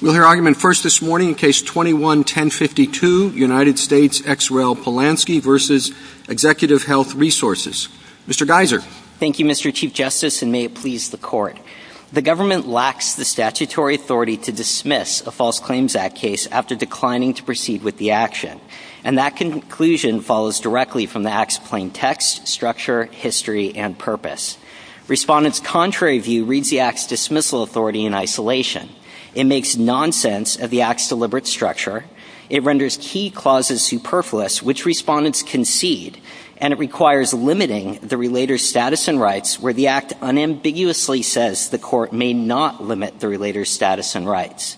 We'll hear argument first this morning in Case 21-1052, United States, ex rel. Polansky v. Executive Health Resources. Mr. Geiser. Thank you, Mr. Chief Justice, and may it please the Court. The government lacks the statutory authority to dismiss a False Claims Act case after declining to proceed with the action, and that conclusion follows directly from the Act's plain text, structure, history, and purpose. Respondents' contrary view reads the Act's dismissal authority in isolation. It makes nonsense of the Act's deliberate structure. It renders key clauses superfluous, which respondents concede. And it requires limiting the relator's status and rights, where the Act unambiguously says the Court may not limit the relator's status and rights.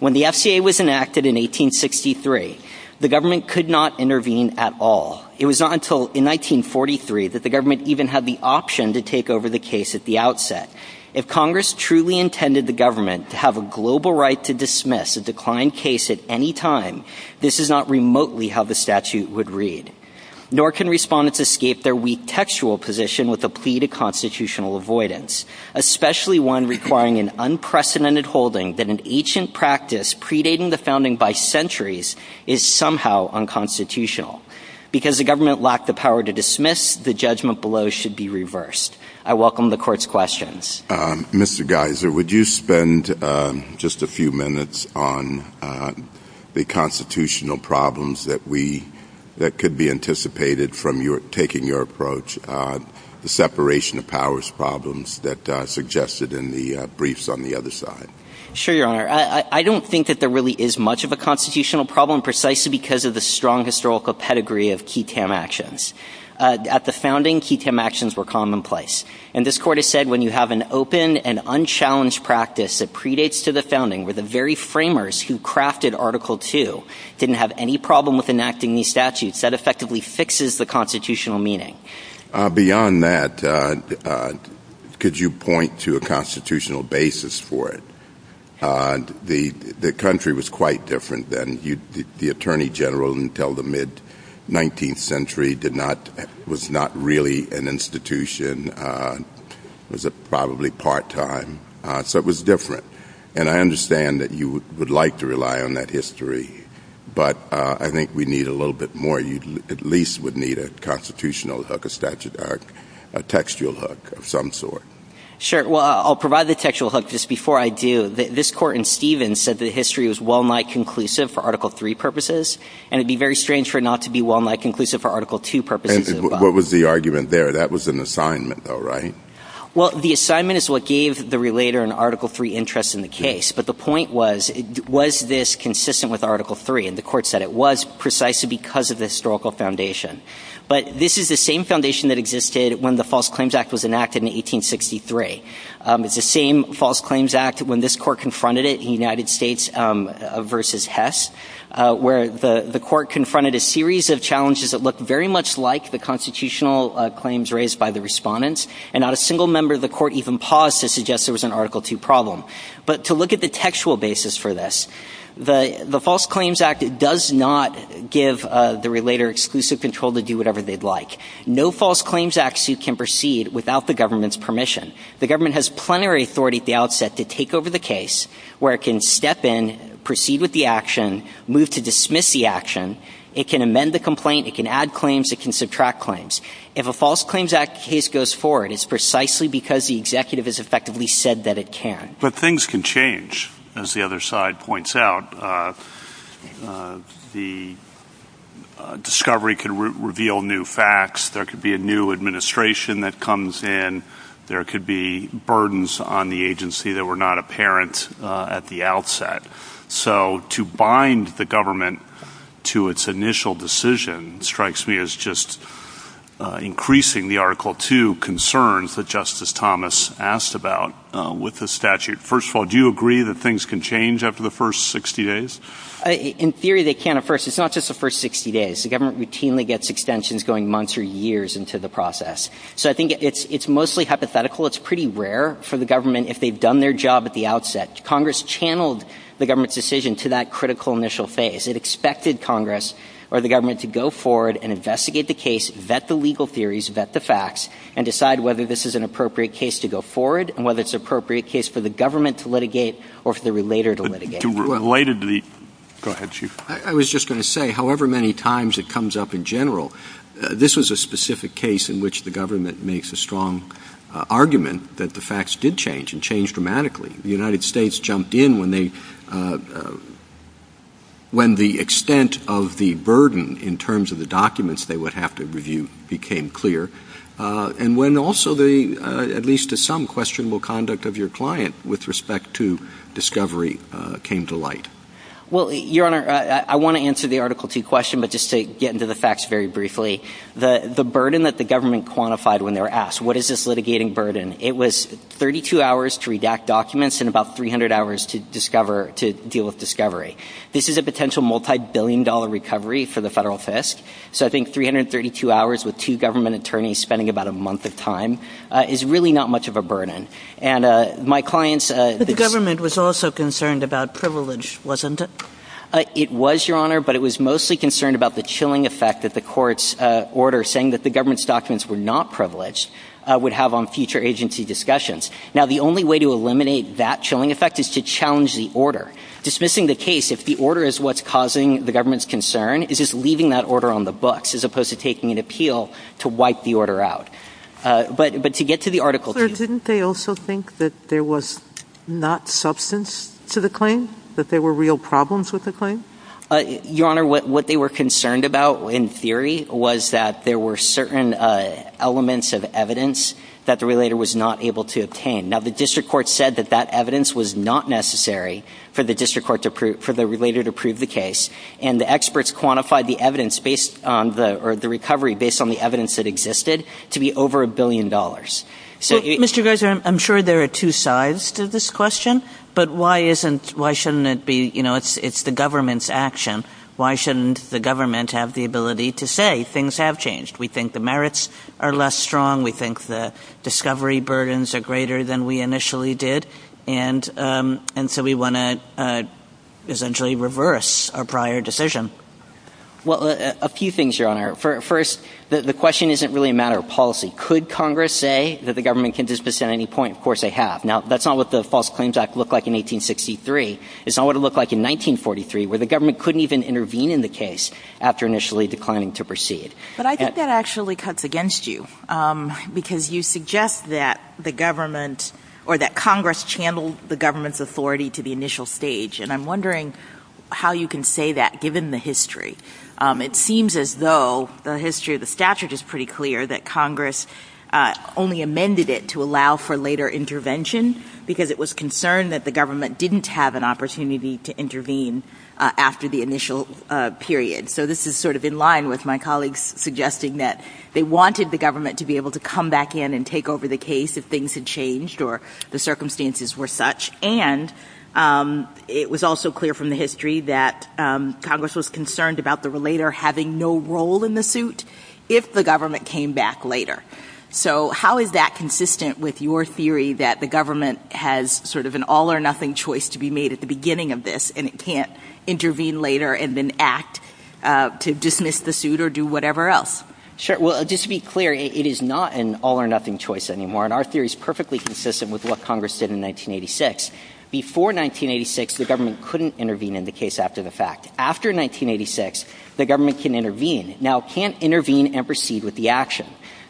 When the FCA was enacted in 1863, the government could not intervene at all. It was not until 1943 that the government even had the option to take over the case at the outset. If Congress truly intended the government to have a global right to dismiss a declined case at any time, this is not remotely how the statute would read. Nor can respondents escape their weak textual position with a plea to constitutional avoidance, especially one requiring an unprecedented holding that an ancient practice predating the founding by centuries is somehow unconstitutional. Because the government lacked the power to dismiss, the judgment below should be reversed. I welcome the Court's questions. Mr. Geiser, would you spend just a few minutes on the constitutional problems that could be anticipated from taking your approach, the separation of powers problems that are suggested in the briefs on the other side? Sure, Your Honor. I don't think that there really is much of a constitutional problem precisely because of the strong historical pedigree of QUTAM actions. At the founding, QUTAM actions were commonplace. And this Court has said when you have an open and unchallenged practice that predates to the founding, where the very framers who crafted Article II didn't have any problem with enacting these statutes, that effectively fixes the constitutional meaning. Beyond that, could you point to a constitutional basis for it? The country was quite different then. The Attorney General until the mid-19th century was not really an institution. It was probably part-time. So it was different. And I understand that you would like to rely on that history. But I think we need a little bit more. You at least would need a constitutional hook, a textual hook of some sort. Sure. Well, I'll provide the textual hook just before I do. This Court in Stevens said that history was well-nigh conclusive for Article III purposes. And it would be very strange for it not to be well-nigh conclusive for Article II purposes. And what was the argument there? That was an assignment though, right? Well, the assignment is what gave the relator in Article III interest in the case. But the point was, was this consistent with Article III? And the Court said it was precisely because of the historical foundation. But this is the same foundation that existed when the False Claims Act was enacted in 1863. It's the same False Claims Act when this Court confronted it in the United States versus Hess, where the Court confronted a series of challenges that looked very much like the constitutional claims raised by the respondents. And not a single member of the Court even paused to suggest there was an Article II problem. But to look at the textual basis for this, the False Claims Act does not give the relator exclusive control to do whatever they'd like. No False Claims Act suit can proceed without the government's permission. The government has plenary authority at the outset to take over the case, where it can step in, proceed with the action, move to dismiss the action. It can amend the complaint, it can add claims, it can subtract claims. If a False Claims Act case goes forward, it's precisely because the executive has effectively said that it can. But things can change, as the other side points out. The discovery can reveal new facts. There could be a new administration that comes in. There could be burdens on the agency that were not apparent at the outset. So to bind the government to its initial decision strikes me as just increasing the Article II concerns that Justice Thomas asked about with the statute. First of all, do you agree that things can change after the first 60 days? In theory, they can at first. It's not just the first 60 days. The government routinely gets extensions going months or years into the process. So I think it's mostly hypothetical. It's pretty rare for the government, if they've done their job at the outset, Congress channeled the government's decision to that critical initial phase. It expected Congress, or the government, to go forward and investigate the case, vet the legal theories, vet the facts, and decide whether this is an appropriate case to go forward, and whether it's an appropriate case for the government to litigate or for the relator to litigate. I was just going to say, however many times it comes up in general, this was a specific case in which the government makes a strong argument that the facts did change, and changed dramatically. The United States jumped in when the extent of the burden in terms of the documents they would have to review became clear, and when also the, at least to some, questionable conduct of your client with respect to discovery came to light. Well, Your Honor, I want to answer the Article 2 question, but just to get into the facts very briefly. The burden that the government quantified when they were asked, what is this litigating burden, it was 32 hours to redact documents and about 300 hours to deal with discovery. This is a potential multi-billion dollar recovery for the federal FISC, so I think 332 hours with two government attorneys spending about a month of time is really not much of a burden. The government was also concerned about privilege, wasn't it? It was, Your Honor, but it was mostly concerned about the chilling effect that the court's order, saying that the government's documents were not privileged, would have on future agency discussions. Now, the only way to eliminate that chilling effect is to challenge the order. Dismissing the case, if the order is what's causing the government's concern, is just leaving that order on the books, as opposed to taking an appeal to wipe the order out. But to get to the Article 2... Didn't they also think that there was not substance to the claim? That there were real problems with the claim? Your Honor, what they were concerned about, in theory, was that there were certain elements of evidence that the relator was not able to obtain. Now, the district court said that that evidence was not necessary for the district court to prove, for the relator to prove the case, and the experts quantified the evidence based on the, the recovery based on the evidence that existed, to be over a billion dollars. So, Mr. Garza, I'm sure there are two sides to this question. But why isn't, why shouldn't it be, you know, it's the government's action. Why shouldn't the government have the ability to say, things have changed? We think the merits are less strong. We think the discovery burdens are greater than we initially did. And, and so we want to, essentially, reverse our prior decision. Well, a few things, Your Honor. First, the question isn't really a matter of policy. Could Congress say that the government can dispense at any point? Of course they have. Now, that's not what the False Claims Act looked like in 1863. It's not what it looked like in 1943, where the government couldn't even intervene in the case, after initially declining to proceed. But I think that actually cuts against you, because you suggest that the government, or that Congress channeled the government's authority to the initial stage. And I'm wondering how you can say that, given the history. It seems as though the history of the statute is pretty clear, that Congress only amended it to allow for later intervention, because it was concerned that the government didn't have an opportunity to intervene after the initial period. So this is sort of in line with my colleagues suggesting that they wanted the government to be able to come back in and take over the case if things had changed, or the circumstances were such. And it was also clear from the history that Congress was concerned about the relator having no role in the suit, if the government came back later. So how is that consistent with your theory that the government has sort of an all-or-nothing choice to be made at the beginning of this, and it can't intervene later and then act to dismiss the suit or do whatever else? Sure. Well, just to be clear, it is not an all-or-nothing choice anymore. And our theory is perfectly consistent with what Congress did in 1986. Before 1986, the government couldn't intervene in the case after the fact. After 1986, the government can intervene. Now, it can't intervene and proceed with the action.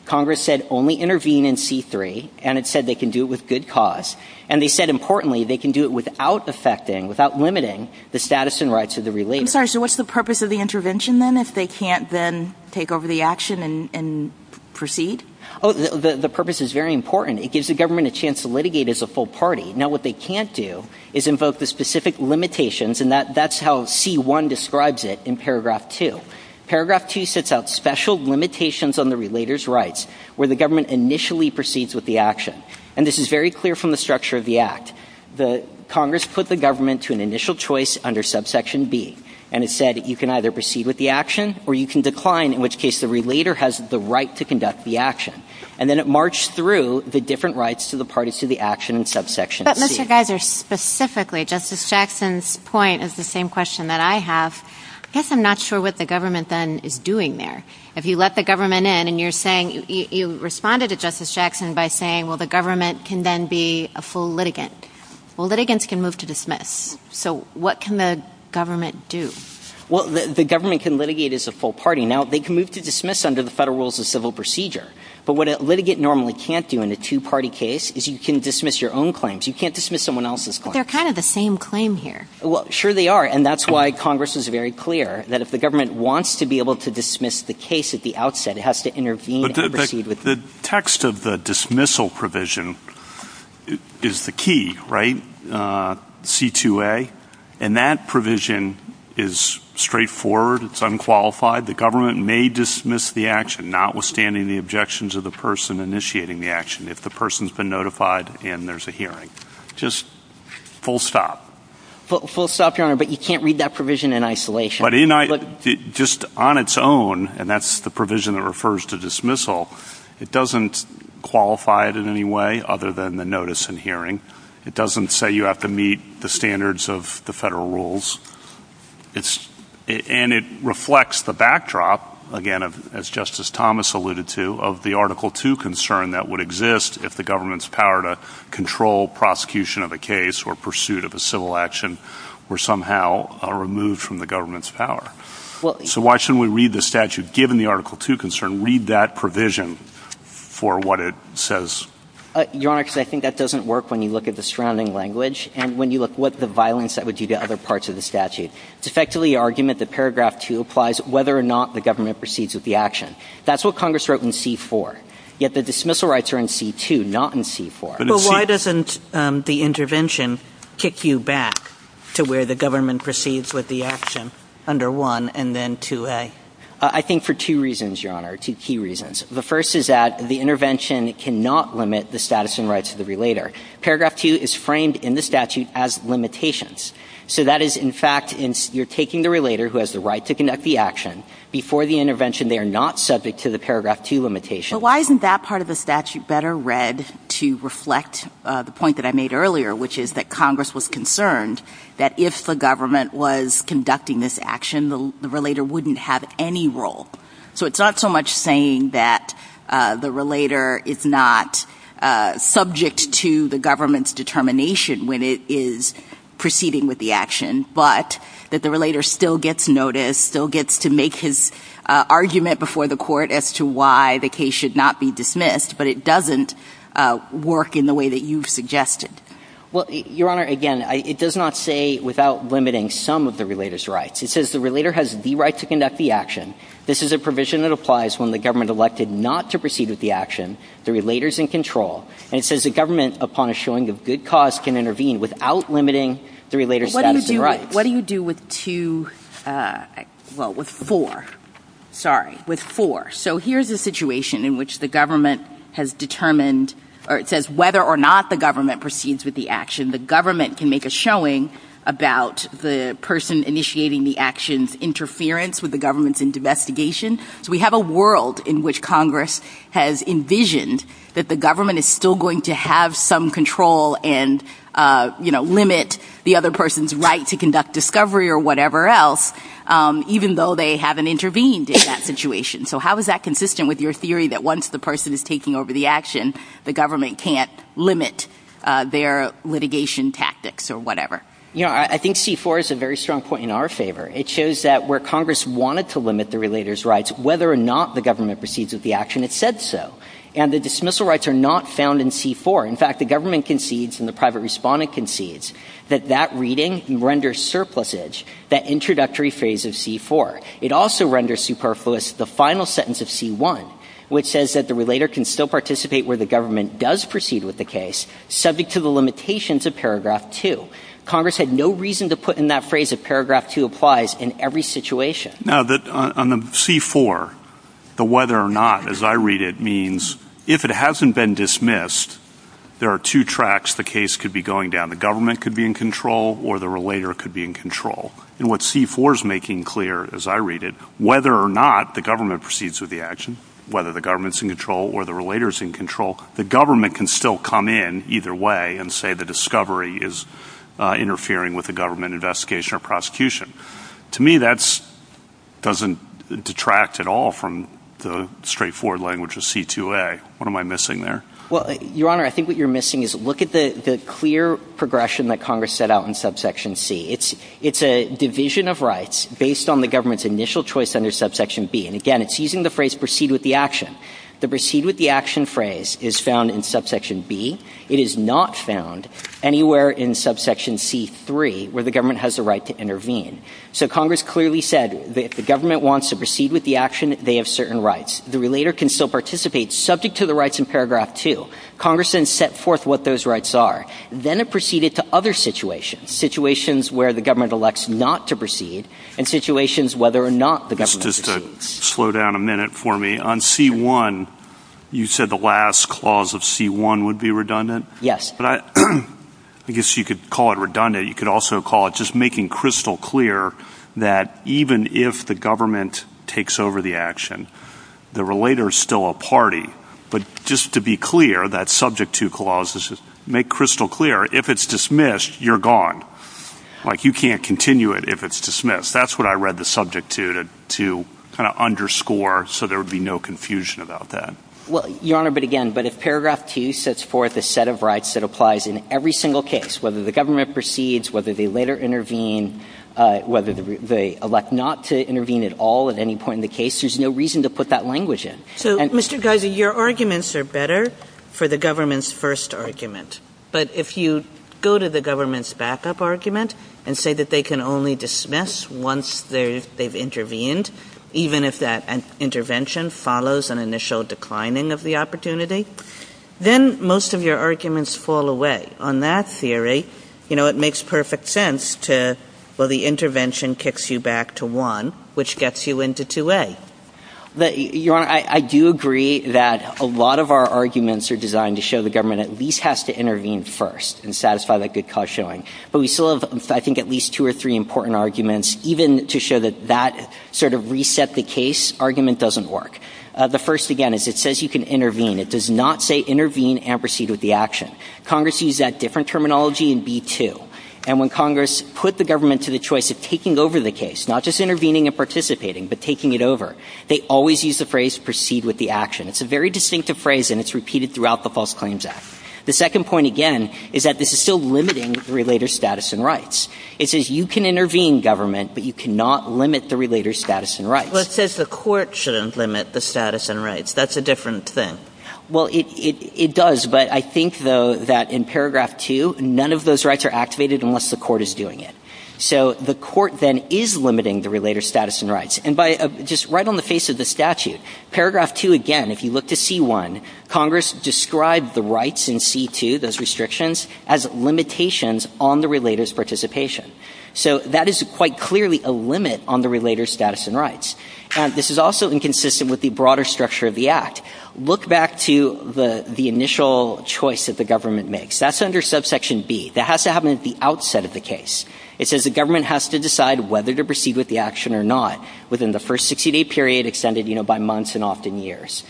Congress said only intervene in C-3, and it said they can do it with good cause. And they said, importantly, they can do it without affecting, without limiting, the status and rights of the relator. I'm sorry, so what's the purpose of the intervention then, if they can't then take over the action and proceed? Oh, the purpose is very important. It gives the government a chance to litigate as a full party. Now, what they can't do is invoke the specific limitations, and that's how C-1 describes it in paragraph 2. Paragraph 2 sets out special limitations on the relator's rights, where the government initially proceeds with the action. And this is very clear from the structure of the Act. Congress put the government to an initial choice under subsection B, and it said you can either proceed with the action or you can decline, in which case the relator has the right to conduct the action. And then it marched through the different rights to the parties to the action in subsection C. But, Mr. Geiser, specifically, Justice Jackson's point is the same question that I have. I guess I'm not sure what the government then is doing there. If you let the government in and you're saying, you responded to Justice Jackson by saying, well, the government can then be a full litigant. Well, litigants can move to dismiss. So what can the government do? Well, the government can litigate as a full party. Now, they can move to dismiss under the federal rules of civil procedure. But what a litigant normally can't do in a two-party case is you can dismiss your own claims. You can't dismiss someone else's claims. They're kind of the same claim here. Well, sure they are, and that's why Congress is very clear that if the government wants to be able to dismiss the case at the outset, it has to intervene and proceed with it. The text of the dismissal provision is the key, right, C-2A? And that provision is straightforward. It's unqualified. The government may dismiss the action, notwithstanding the objections of the person initiating the action, if the person's been notified and there's a hearing. Just full stop. Full stop, Your Honor, but you can't read that provision in isolation. Just on its own, and that's the provision that refers to dismissal, it doesn't qualify it in any way other than the notice and hearing. It doesn't say you have to meet the standards of the federal rules. And it reflects the backdrop, again, as Justice Thomas alluded to, of the Article II concern that would exist if the government's power to control prosecution of a case or pursuit of a civil action were somehow removed from the government's power. So why shouldn't we read the statute, given the Article II concern, read that provision for what it says? Your Honor, because I think that doesn't work when you look at the surrounding language and when you look what the violence that would do to other parts of the statute. It's effectively the argument that paragraph two applies whether or not the government proceeds with the action. That's what Congress wrote in C-4. Yet the dismissal rights are in C-2, not in C-4. But why doesn't the intervention kick you back to where the government proceeds with the action under 1 and then 2A? I think for two reasons, Your Honor, two key reasons. The first is that the intervention cannot limit the status and rights of the relator. Paragraph two is framed in the statute as limitations. So that is, in fact, you're taking the relator who has the right to conduct the action. Before the intervention, they are not subject to the paragraph two limitation. But why isn't that part of the statute better read to reflect the point that I made earlier, which is that Congress was concerned that if the government was conducting this action, the relator wouldn't have any role? So it's not so much saying that the relator is not subject to the government's determination when it is proceeding with the action, but that the relator still gets noticed, still gets to make his argument before the court as to why the case should not be dismissed. But it doesn't work in the way that you've suggested. Well, Your Honor, again, it does not say without limiting some of the relator's rights. It says the relator has the right to conduct the action. This is a provision that applies when the government elected not to proceed with the action. The relator's in control. And it says the government, upon a showing of good cause, can intervene without limiting the relator's status and rights. What do you do with two? Well, with four. Sorry, with four. So here's a situation in which the government has determined, or it says whether or not the government proceeds with the action. The government can make a showing about the person initiating the action's interference with the government's investigation. So we have a world in which Congress has envisioned that the government is still going to have some control and limit the other person's right to conduct discovery or whatever else, even though they haven't intervened in that situation. So how is that consistent with your theory that once the person is taking over the action, the government can't limit their litigation tactics or whatever? Your Honor, I think C-4 is a very strong point in our favor. It shows that where Congress wanted to limit the relator's rights, whether or not the government proceeds with the action, it said so. And the dismissal rights are not found in C-4. In fact, the government concedes, and the private respondent concedes, that that reading renders surplusage that introductory phrase of C-4. It also renders superfluous the final sentence of C-1, which says that the relator can still participate where the government does proceed with the case, subject to the limitations of Paragraph 2. Congress had no reason to put in that phrase that Paragraph 2 applies in every situation. Now, on the C-4, the whether or not, as I read it, means if it hasn't been dismissed, there are two tracks the case could be going down. The government could be in control or the relator could be in control. And what C-4 is making clear, as I read it, whether or not the government proceeds with the action, whether the government's in control or the relator's in control, the government can still come in either way and say the discovery is interfering with the government investigation or prosecution. To me, that doesn't detract at all from the straightforward language of C-2A. What am I missing there? Well, Your Honor, I think what you're missing is look at the clear progression that Congress set out in Subsection C. It's a division of rights based on the government's initial choice under Subsection B. And, again, it's using the phrase proceed with the action. The proceed with the action phrase is found in Subsection B. It is not found anywhere in Subsection C-3 where the government has the right to intervene. So Congress clearly said that if the government wants to proceed with the action, they have certain rights. The relator can still participate subject to the rights in Paragraph 2. Congress then set forth what those rights are. Then it proceeded to other situations, situations where the government elects not to proceed and situations whether or not the government proceeds. Just to slow down a minute for me, on C-1, you said the last clause of C-1 would be redundant? Yes. I guess you could call it redundant. You could also call it just making crystal clear that even if the government takes over the action, the relator is still a party. But just to be clear, that subject to clause, make crystal clear, if it's dismissed, you're gone. Like you can't continue it if it's dismissed. That's what I read the subject to, to kind of underscore so there would be no confusion about that. Well, Your Honor, but again, but if Paragraph T sets forth a set of rights that applies in every single case, whether the government proceeds, whether they later intervene, whether they elect not to intervene at all at any point in the case, there's no reason to put that language in. So, Mr. Geiser, your arguments are better for the government's first argument. But if you go to the government's backup argument and say that they can only dismiss once they've intervened, even if that intervention follows an initial declining of the opportunity, then most of your arguments fall away. On that theory, you know, it makes perfect sense to, well, the intervention kicks you back to 1, which gets you into 2A. Your Honor, I do agree that a lot of our arguments are designed to show the government at least has to intervene first and satisfy that good cause showing. But we still have, I think, at least two or three important arguments, even to show that that sort of reset the case argument doesn't work. The first, again, is it says you can intervene. It does not say intervene and proceed with the action. Congress used that different terminology in B2. And when Congress put the government to the choice of taking over the case, not just intervening and participating, but taking it over, they always used the phrase proceed with the action. It's a very distinctive phrase, and it's repeated throughout the False Claims Act. The second point, again, is that this is still limiting the relator's status and rights. It says you can intervene, government, but you cannot limit the relator's status and rights. Well, it says the court shouldn't limit the status and rights. That's a different thing. Well, it does. But I think, though, that in paragraph 2, none of those rights are activated unless the court is doing it. So the court then is limiting the relator's status and rights. And just right on the face of the statute, paragraph 2, again, if you look to C1, Congress described the rights in C2, those restrictions, as limitations on the relator's participation. So that is quite clearly a limit on the relator's status and rights. This is also inconsistent with the broader structure of the Act. Look back to the initial choice that the government makes. That's under subsection B. That has to happen at the outset of the case. It says the government has to decide whether to proceed with the action or not within the first 60-day period extended by months and often years.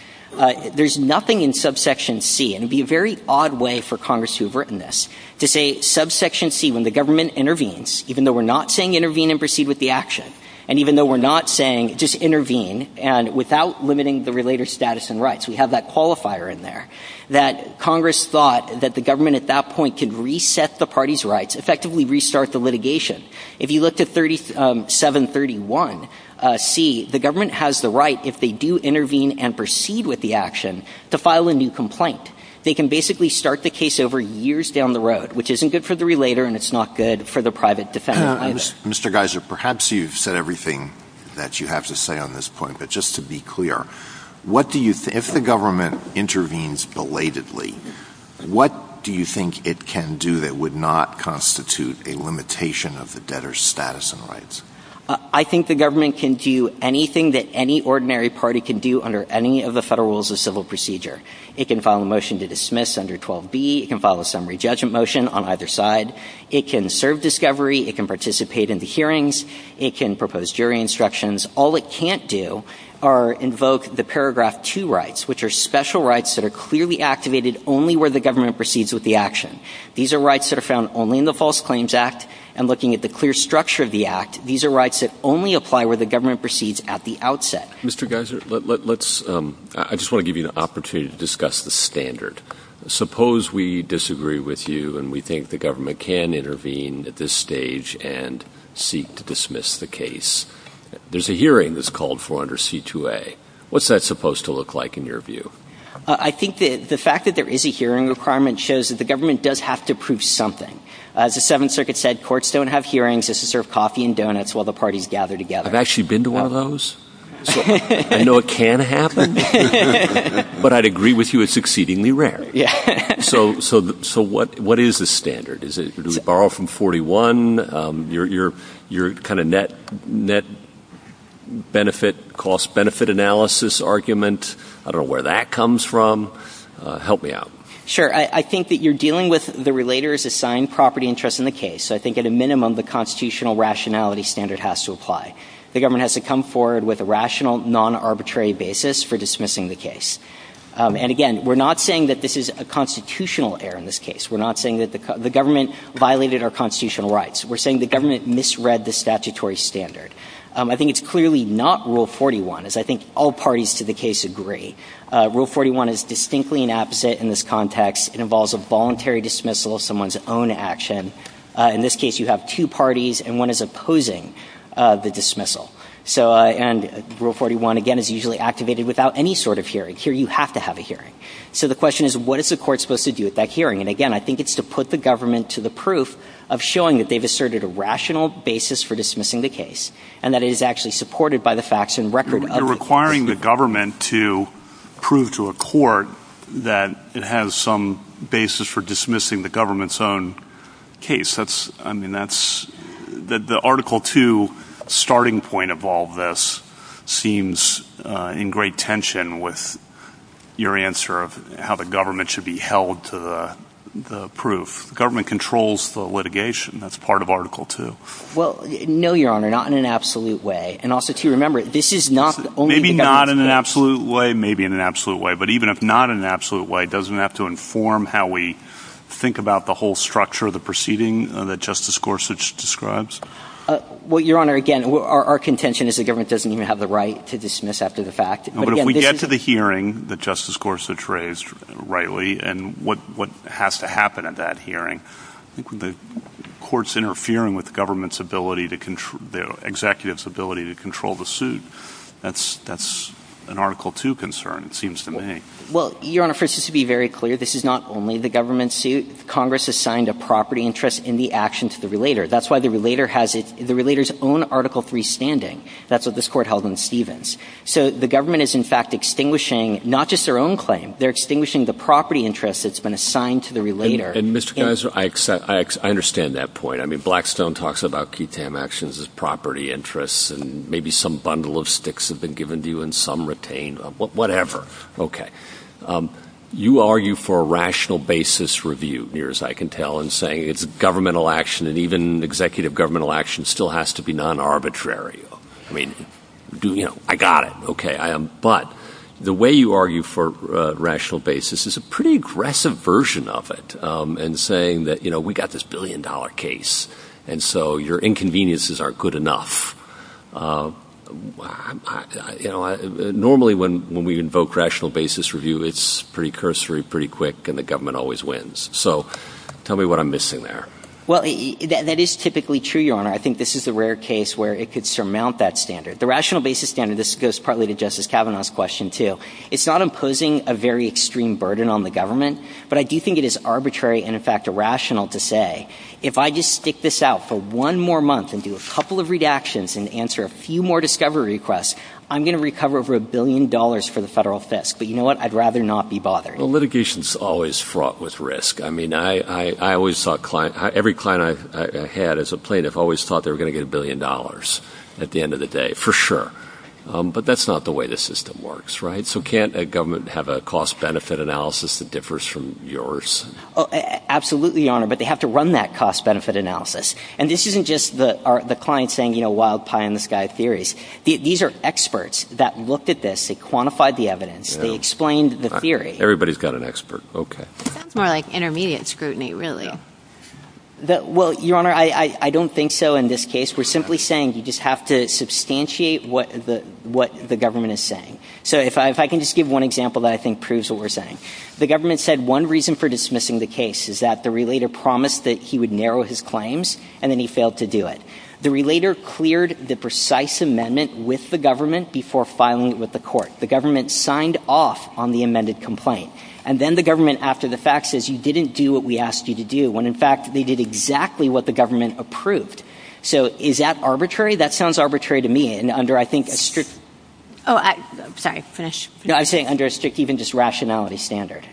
There's nothing in subsection C, and it would be a very odd way for Congress to have written this, to say subsection C, when the government intervenes, even though we're not saying intervene and proceed with the action, and even though we're not saying just intervene, and without limiting the relator's status and rights. We have that qualifier in there. That Congress thought that the government at that point could reset the party's rights, effectively restart the litigation. If you look to 3731C, the government has the right, if they do intervene and proceed with the action, to file a new complaint. They can basically start the case over years down the road, which isn't good for the relator, and it's not good for the private defender either. Mr. Geiser, perhaps you've said everything that you have to say on this point, but just to be clear, if the government intervenes belatedly, what do you think it can do that would not constitute a limitation of the debtor's status and rights? I think the government can do anything that any ordinary party can do under any of the federal rules of civil procedure. It can file a motion to dismiss under 12B. It can file a summary judgment motion on either side. It can serve discovery. It can participate in the hearings. It can propose jury instructions. All it can't do are invoke the paragraph 2 rights, which are special rights that are clearly activated only where the government proceeds with the action. These are rights that are found only in the False Claims Act, and looking at the clear structure of the Act, these are rights that only apply where the government proceeds at the outset. Mr. Geiser, I just want to give you the opportunity to discuss the standard. Suppose we disagree with you and we think the government can intervene at this stage and seek to dismiss the case. There's a hearing that's called for under C2A. What's that supposed to look like in your view? I think the fact that there is a hearing requirement shows that the government does have to prove something. As the Seventh Circuit said, courts don't have hearings. It's to serve coffee and donuts while the parties gather together. I've actually been to one of those. I know it can happen, but I'd agree with you it's exceedingly rare. So what is the standard? Do we borrow from 41? Your kind of net cost-benefit analysis argument, I don't know where that comes from. Help me out. Sure. I think that you're dealing with the relator's assigned property interest in the case. I think at a minimum the constitutional rationality standard has to apply. The government has to come forward with a rational, non-arbitrary basis for dismissing the case. And again, we're not saying that this is a constitutional error in this case. We're not saying that the government violated our constitutional rights. We're saying the government misread the statutory standard. I think it's clearly not Rule 41, as I think all parties to the case agree. Rule 41 is distinctly an opposite in this context. It involves a voluntary dismissal of someone's own action. In this case you have two parties, and one is opposing the dismissal. And Rule 41, again, is usually activated without any sort of hearing. Here you have to have a hearing. So the question is, what is the court supposed to do at that hearing? And again, I think it's to put the government to the proof of showing that they've asserted a rational basis for dismissing the case. And that it is actually supported by the facts and record of the case. You're requiring the government to prove to a court that it has some basis for dismissing the government's own case. I mean, the Article 2 starting point of all this seems in great tension with your answer of how the government should be held to the proof. Government controls the litigation. That's part of Article 2. Well, no, Your Honor, not in an absolute way. And also, too, remember, this is not only the government. Maybe not in an absolute way, maybe in an absolute way. But even if not in an absolute way, doesn't it have to inform how we think about the whole structure of the proceeding that Justice Gorsuch describes? Well, Your Honor, again, our contention is the government doesn't even have the right to dismiss after the fact. But if we get to the hearing that Justice Gorsuch raised rightly and what has to happen at that hearing, I think when the court's interfering with the government's ability, the executive's ability to control the suit, that's an Article 2 concern, it seems to me. Well, Your Honor, for instance, to be very clear, this is not only the government's suit. Congress assigned a property interest in the action to the relator. That's why the relator has the relator's own Article 3 standing. That's what this court held in Stevens. So the government is, in fact, extinguishing not just their own claim. They're extinguishing the property interest that's been assigned to the relator. And, Mr. Kaiser, I understand that point. I mean, Blackstone talks about TTAM actions as property interests and maybe some bundle of sticks have been given to you and some retained. Whatever. Okay. You argue for a rational basis review, near as I can tell, in saying it's a governmental action and even executive governmental action still has to be non-arbitrary. I mean, I got it. Okay. But the way you argue for rational basis is a pretty aggressive version of it in saying that, you know, we got this billion-dollar case, and so your inconveniences aren't good enough. Normally, when we invoke rational basis review, it's pretty cursory, pretty quick, and the government always wins. So tell me what I'm missing there. Well, that is typically true, Your Honor. I think this is a rare case where it could surmount that standard. The rational basis standard goes partly to Justice Kavanaugh's question, too. It's not imposing a very extreme burden on the government, but I do think it is arbitrary and, in fact, irrational to say, if I just stick this out for one more month and do a couple of redactions and answer a few more discovery requests, I'm going to recover over a billion dollars for the federal fisc. But you know what? I'd rather not be bothering. Well, litigation is always fraught with risk. Every client I've had as a plaintiff always thought they were going to get a billion dollars at the end of the day, for sure. But that's not the way the system works, right? So can't a government have a cost-benefit analysis that differs from yours? Absolutely, Your Honor, but they have to run that cost-benefit analysis. And this isn't just the client saying, you know, wild pie in the sky theories. These are experts that looked at this. They quantified the evidence. They explained the theory. Everybody's got an expert. Okay. More like intermediate scrutiny, really. Well, Your Honor, I don't think so in this case. We're simply saying you just have to substantiate what the government is saying. So if I can just give one example that I think proves what we're saying. The government said one reason for dismissing the case is that the relator promised that he would narrow his claims, and then he failed to do it. The relator cleared the precise amendment with the government before filing it with the court. The government signed off on the amended complaint. And then the government, after the fact, says you didn't do what we asked you to do when, in fact, they did exactly what the government approved. So is that arbitrary? That sounds arbitrary to me. And under, I think, a strict... Oh, I'm sorry. Finish. No, I'm saying under a strict even just rationality standard.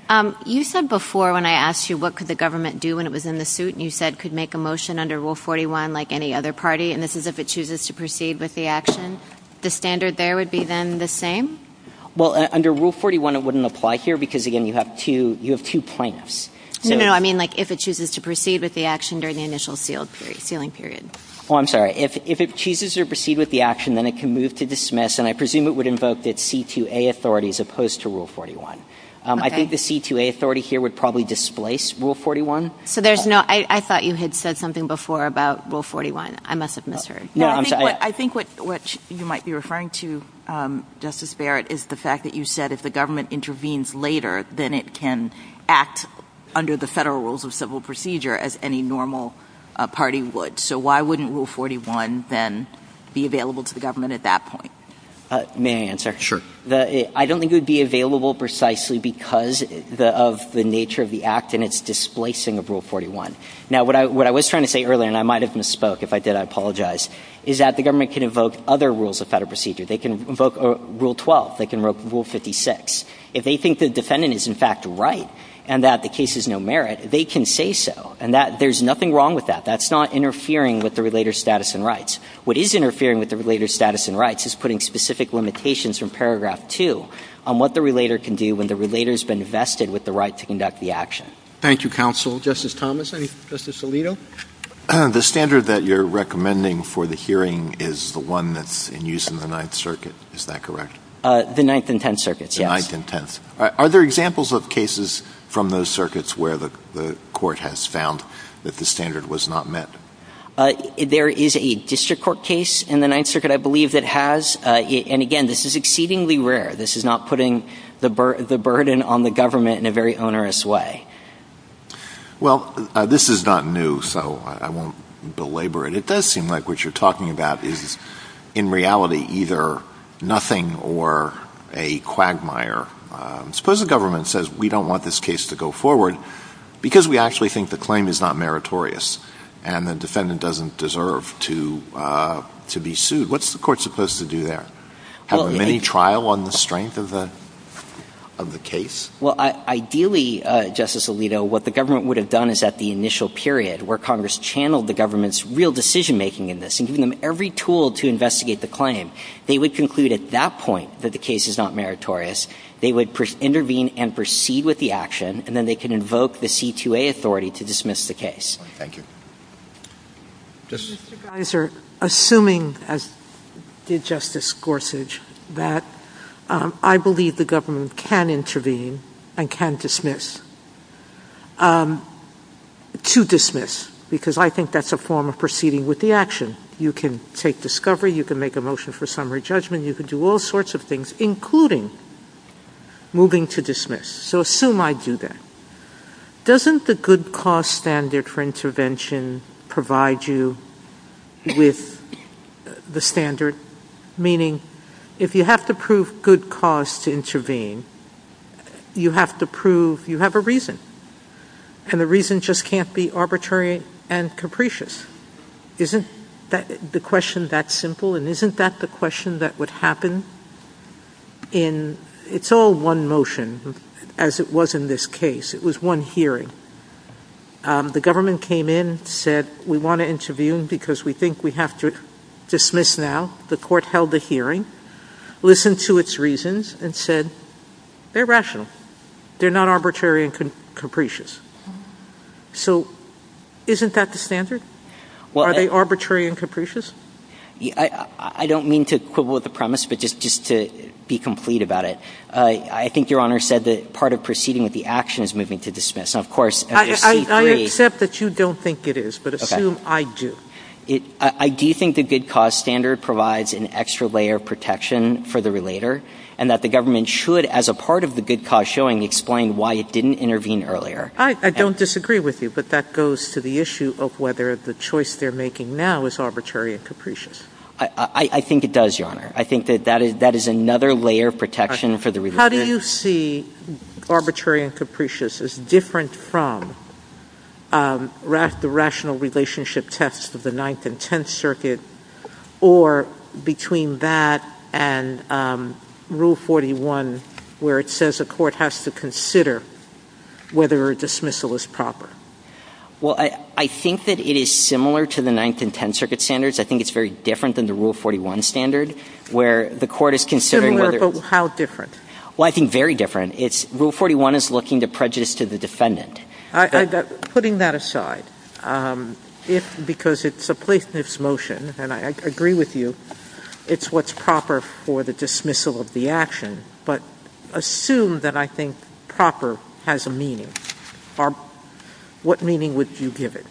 You said before when I asked you what could the government do when it was in the suit, and you said it could make a motion under Rule 41 like any other party, and this is if it chooses to proceed with the action. The standard there would be then the same? Well, under Rule 41 it wouldn't apply here because, again, you have two plaintiffs. No, no, I mean like if it chooses to proceed with the action during the initial sealing period. Oh, I'm sorry. If it chooses to proceed with the action, then it can move to dismiss, and I presume it would invoke the C2A authority as opposed to Rule 41. I think the C2A authority here would probably displace Rule 41. So there's no... I thought you had said something before about Rule 41. I must have misheard. No, I'm sorry. I think what you might be referring to, Justice Barrett, is the fact that you said if the government intervenes later, then it can act under the federal rules of civil procedure as any normal party would. So why wouldn't Rule 41 then be available to the government at that point? May I answer? Sure. I don't think it would be available precisely because of the nature of the act and its displacing of Rule 41. Now, what I was trying to say earlier, and I might have misspoke. If I did, I apologize, is that the government can invoke other rules of federal procedure. They can invoke Rule 12. They can invoke Rule 56. If they think the defendant is, in fact, right and that the case is no merit, they can say so, and there's nothing wrong with that. That's not interfering with the relator's status and rights. What is interfering with the relator's status and rights is putting specific limitations from Paragraph 2 on what the relator can do when the relator has been vested with the right to conduct the action. Thank you, counsel. Justice Thomas? Justice Alito? The standard that you're recommending for the hearing is the one that's in use in the Ninth Circuit. Is that correct? The Ninth and Tenth Circuits, yes. The Ninth and Tenth. Are there examples of cases from those circuits where the court has found that the standard was not met? There is a district court case in the Ninth Circuit, I believe, that has. And, again, this is exceedingly rare. This is not putting the burden on the government in a very onerous way. Well, this is not new, so I won't belabor it. It does seem like what you're talking about is, in reality, either nothing or a quagmire. Suppose the government says, we don't want this case to go forward because we actually think the claim is not meritorious and the defendant doesn't deserve to be sued. What's the court supposed to do there? Have a mini-trial on the strength of the case? Well, ideally, Justice Alito, what the government would have done is at the initial period, where Congress channeled the government's real decision-making in this and given them every tool to investigate the claim, they would conclude at that point that the case is not meritorious. They would intervene and proceed with the action, and then they could invoke the C2A authority to dismiss the case. Thank you. Mr. Geiser, assuming, as did Justice Gorsuch, that I believe the government can intervene and can dismiss, to dismiss, because I think that's a form of proceeding with the action. You can take discovery, you can make a motion for summary judgment, you can do all sorts of things, including moving to dismiss. So assume I do that. Doesn't the good cause standard for intervention provide you with the standard, meaning if you have to prove good cause to intervene, you have to prove you have a reason, and the reason just can't be arbitrary and capricious. Isn't the question that simple, and isn't that the question that would happen? It's all one motion, as it was in this case. It was one hearing. The government came in, said we want to intervene because we think we have to dismiss now. The court held a hearing, listened to its reasons, and said they're rational. They're not arbitrary and capricious. So isn't that the standard? Are they arbitrary and capricious? I don't mean to quibble with the premise, but just to be complete about it, I think Your Honor said that part of proceeding with the action is moving to dismiss. I accept that you don't think it is, but assume I do. I do think the good cause standard provides an extra layer of protection for the relator, and that the government should, as a part of the good cause showing, explain why it didn't intervene earlier. I don't disagree with you, but that goes to the issue of whether the choice they're making now is arbitrary and capricious. I think it does, Your Honor. I think that that is another layer of protection for the relator. How do you see arbitrary and capricious as different from the rational relationship test of the Ninth and Tenth Circuits, or between that and Rule 41, where it says a court has to consider whether a dismissal is proper? Well, I think that it is similar to the Ninth and Tenth Circuit standards. I think it's very different than the Rule 41 standard, where the court is considering whether... Similar, but how different? Well, I think very different. Rule 41 is looking to prejudice to the defendant. Putting that aside, because it's a placement motion, and I agree with you, it's what's proper for the dismissal of the action, but assume that I think proper has a meaning. What meaning would you give it?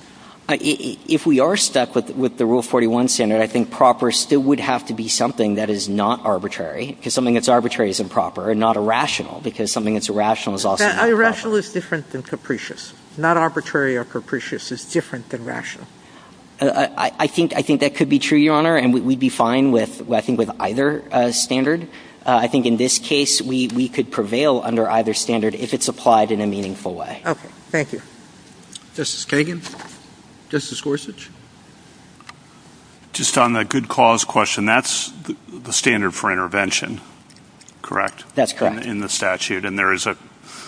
If we are stuck with the Rule 41 standard, I think proper still would have to be something that is not arbitrary, because something that's arbitrary is improper, and not irrational, because something that's irrational is also not proper. Irrational is different than capricious. Not arbitrary or capricious is different than rational. I think that could be true, Your Honor, and we'd be fine with either standard. I think in this case, we could prevail under either standard if it's applied in a meaningful way. Okay. Thank you. Justice Kagan? Justice Gorsuch? Just on the good cause question, that's the standard for intervention, correct? That's correct. In the statute, and there is a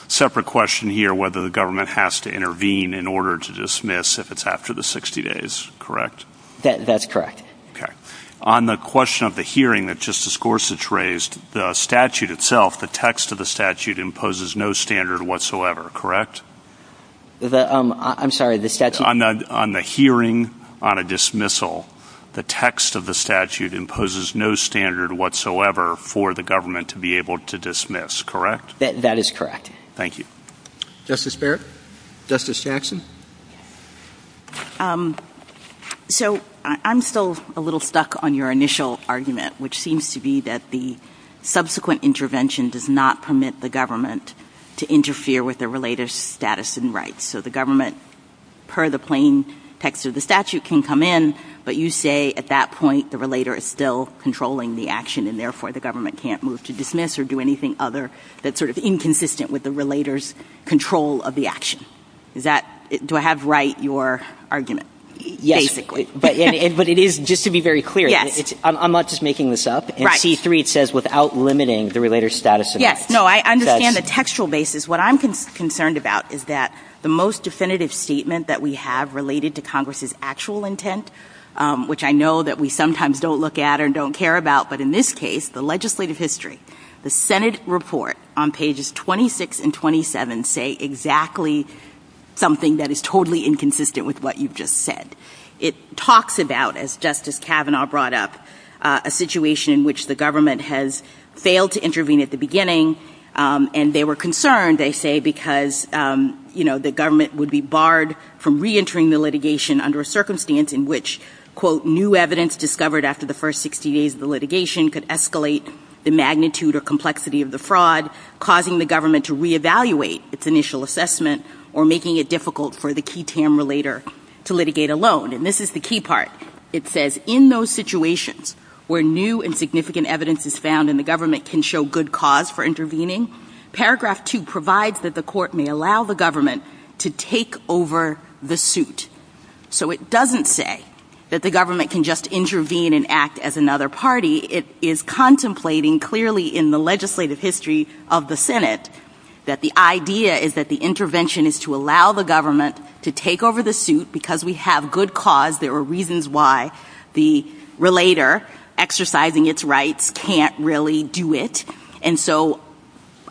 separate question here, whether the government has to intervene in order to dismiss if it's after the 60 days, correct? That's correct. Okay. On the question of the hearing that Justice Gorsuch raised, the statute itself, the text of the statute, imposes no standard whatsoever, correct? I'm sorry, the statute? On the hearing on a dismissal, the text of the statute imposes no standard whatsoever for the government to be able to dismiss, correct? That is correct. Thank you. Justice Barrett? Justice Jackson? So I'm still a little stuck on your initial argument, which seems to be that the subsequent intervention does not permit the government to interfere with the relator's status and rights. So the government, per the plain text of the statute, can come in, but you say at that point the relator is still controlling the action, and therefore the government can't move to dismiss or do anything other that's sort of inconsistent with the relator's control of the action. Do I have right your argument, basically? Yes, but it is, just to be very clear, I'm not just making this up. In C-3, it says without limiting the relator's status and rights. Yes, no, I understand the textual basis. What I'm concerned about is that the most definitive statement that we have related to Congress's actual intent, which I know that we sometimes don't look at or don't care about, but in this case, the legislative history, the Senate report on pages 26 and 27 say exactly something that is totally inconsistent with what you've just said. It talks about, as Justice Kavanaugh brought up, a situation in which the government has failed to intervene at the beginning, and they were concerned, they say, because, you know, the government would be barred from reentering the litigation under a circumstance in which, quote, new evidence discovered after the first 60 days of the litigation could escalate the magnitude or complexity of the fraud, causing the government to reevaluate its initial assessment or making it difficult for the key Tam relator to litigate alone. And this is the key part. It says, in those situations where new and significant evidence is found and the government can show good cause for intervening, paragraph 2 provides that the court may allow the government to take over the suit. So it doesn't say that the government can just intervene and act as another party. It is contemplating clearly in the legislative history of the Senate that the idea is that the intervention is to allow the government to take over the suit because we have good cause. There are reasons why the relator, exercising its rights, can't really do it. And so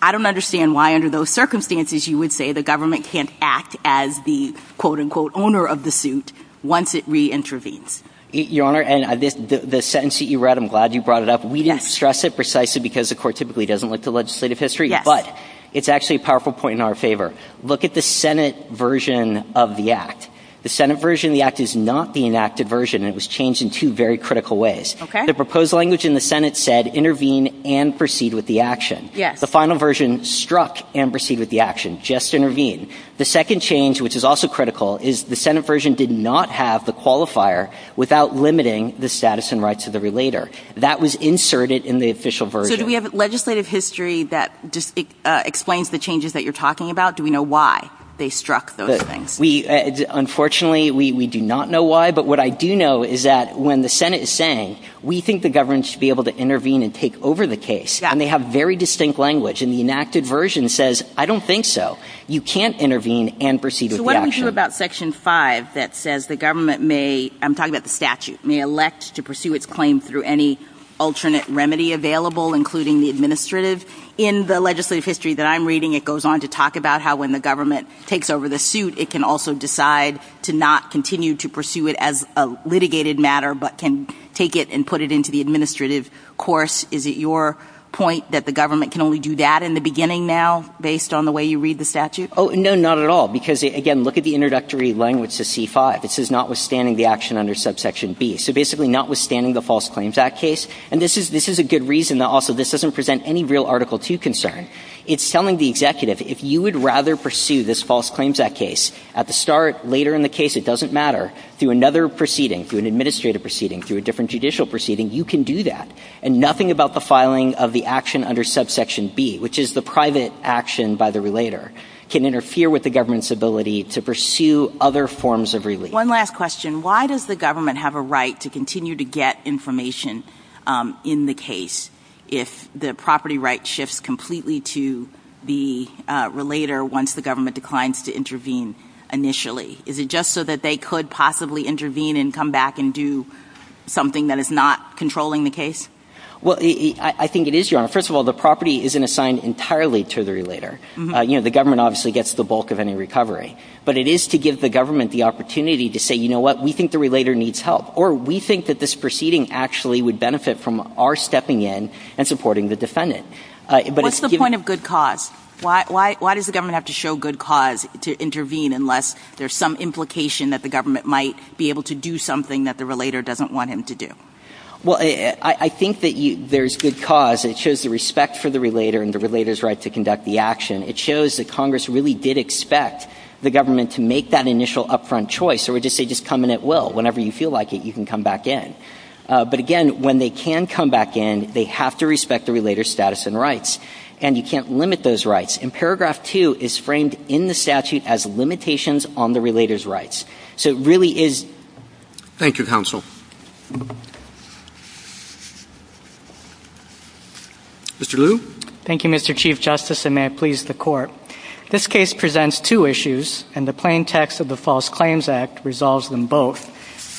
I don't understand why, under those circumstances, you would say the government can't act as the, quote, unquote, owner of the suit once it reintervenes. Your Honor, and the sentence that you read, I'm glad you brought it up, we didn't stress it precisely because the court typically doesn't look to legislative history, but it's actually a powerful point in our favor. Look at the Senate version of the Act. The Senate version of the Act is not the enacted version. It was changed in two very critical ways. The proposed language in the Senate said intervene and proceed with the action. The final version struck and proceed with the action. Just intervene. The second change, which is also critical, is the Senate version did not have the qualifier without limiting the status and rights of the relator. That was inserted in the official version. So do we have legislative history that explains the changes that you're talking about? Do we know why they struck those things? Unfortunately, we do not know why, but what I do know is that when the Senate is saying, we think the government should be able to intervene and take over the case, and they have very distinct language, and the enacted version says, I don't think so. You can't intervene and proceed with the action. So what do we do about Section 5 that says the government may, I'm talking about the statute, may elect to pursue its claim through any alternate remedy available, including the administrative? In the legislative history that I'm reading, it goes on to talk about how when the government takes over the suit, it can also decide to not continue to pursue it as a litigated matter, but can take it and put it into the administrative course. Is it your point that the government can only do that in the beginning now, based on the way you read the statute? Oh, no, not at all. Because, again, look at the introductory language to C-5. It says notwithstanding the action under subsection B. So basically notwithstanding the False Claims Act case, and this is a good reason that also this doesn't present any real Article 2 concern. It's telling the executive, if you would rather pursue this False Claims Act case, at the start, later in the case, it doesn't matter. Through another proceeding, through an administrative proceeding, through a different judicial proceeding, you can do that. And nothing about the filing of the action under subsection B, which is the private action by the relator, can interfere with the government's ability to pursue other forms of relief. One last question. Why does the government have a right to continue to get information in the case if the property right shifts completely to the relator once the government declines to intervene initially? Is it just so that they could possibly intervene and come back and do something that is not controlling the case? Well, I think it is, Your Honor. First of all, the property isn't assigned entirely to the relator. You know, the government obviously gets the bulk of any recovery. But it is to give the government the opportunity to say, you know what, we think the relator needs help, or we think that this proceeding actually would benefit from our stepping in and supporting the defendant. What's the point of good cause? Why does the government have to show good cause to intervene unless there's some implication that the government might be able to do something that the relator doesn't want him to do? Well, I think that there's good cause. It shows the respect for the relator and the relator's right to conduct the action. It shows that Congress really did expect the government to make that initial up-front choice or just say, just come in at will. Whenever you feel like it, you can come back in. But again, when they can come back in, they have to respect the relator's status and rights. And you can't limit those rights. And Paragraph 2 is framed in the statute as limitations on the relator's rights. So it really is... Thank you, Counsel. Mr. Liu? Thank you, Mr. Chief Justice, and may it please the Court. This case presents two issues, and the plain text of the False Claims Act resolves them both.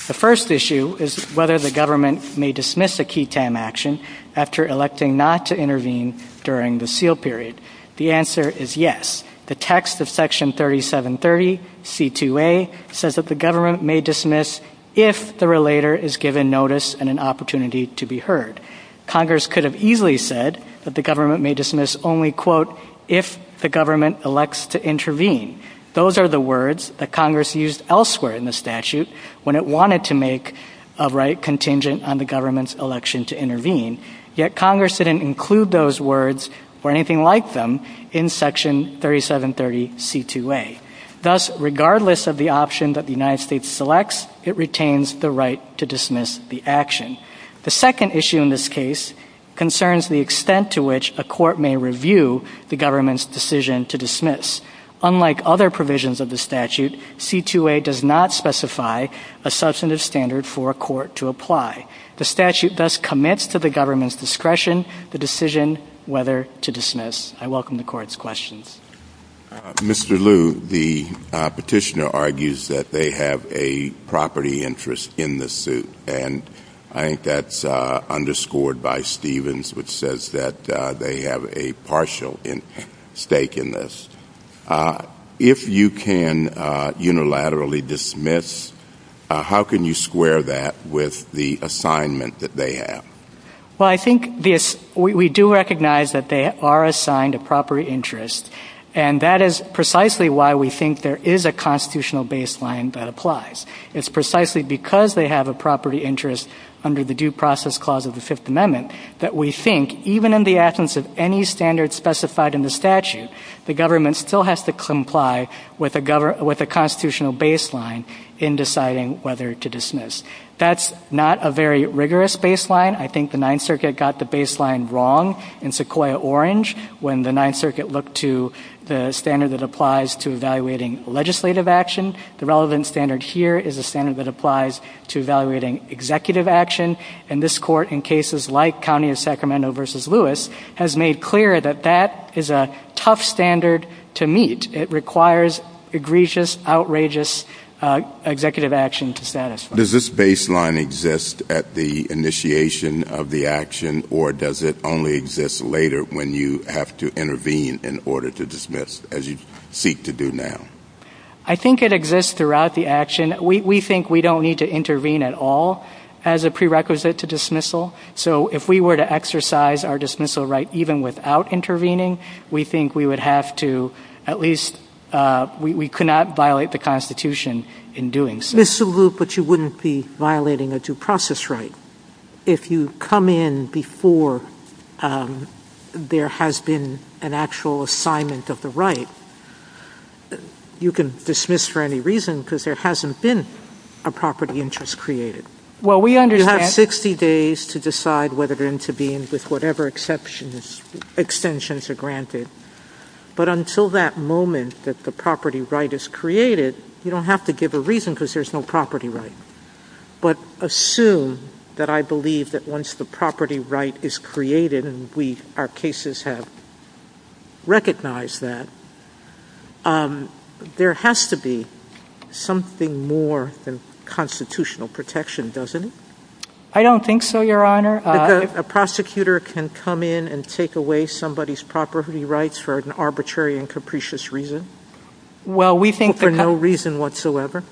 The first issue is whether the government may dismiss a key time action after electing not to intervene during the seal period. The answer is yes. The text of Section 3730C2A says that the government may dismiss if the relator is given notice and an opportunity to be heard. Congress could have easily said that the government may dismiss only, quote, if the government elects to intervene. Those are the words that Congress used elsewhere in the statute when it wanted to make a right contingent on the government's election to intervene. Yet Congress didn't include those words or anything like them in Section 3730C2A. Thus, regardless of the option that the United States selects, it retains the right to dismiss the action. The second issue in this case concerns the extent to which a court may review the government's decision to dismiss. Unlike other provisions of the statute, C2A does not specify a substantive standard for a court to apply. The statute thus commits to the government's discretion the decision whether to dismiss. I welcome the Court's questions. Mr. Liu, the petitioner argues that they have a property interest in this suit, and I think that's underscored by Stevens, which says that they have a partial stake in this. If you can unilaterally dismiss, how can you square that with the assignment that they have? Well, I think we do recognize that they are assigned a property interest, and that is precisely why we think there is a constitutional baseline that applies. It's precisely because they have a property interest under the due process clause of the Fifth Amendment that we think even in the absence of any standard specified in the statute, the government still has to comply with a constitutional baseline in deciding whether to dismiss. That's not a very rigorous baseline. I think the Ninth Circuit got the baseline wrong in Sequoyah-Orange when the Ninth Circuit looked to the standard that applies to evaluating legislative action. The relevant standard here is a standard that applies to evaluating executive action, and this Court in cases like County of Sacramento v. Lewis has made clear that that is a tough standard to meet. It requires egregious, outrageous executive action to satisfy. Does this baseline exist at the initiation of the action, or does it only exist later when you have to intervene in order to dismiss, as you seek to do now? I think it exists throughout the action. We think we don't need to intervene at all as a prerequisite to dismissal, so if we were to exercise our dismissal right even without intervening, we think we would have to at least, we could not violate the Constitution in doing so. But you wouldn't be violating a due process right if you come in before there has been an actual assignment of the right. You can dismiss for any reason because there hasn't been a property interest created. You have 60 days to decide whether to intervene with whatever extensions are granted. But until that moment that the property right is created, you don't have to give a reason because there's no property right. But assume that I believe that once the property right is created, and our cases have recognized that, there has to be something more than constitutional protection, doesn't it? I don't think so, Your Honor. A prosecutor can come in and take away somebody's property rights for an arbitrary and capricious reason, for no reason whatsoever?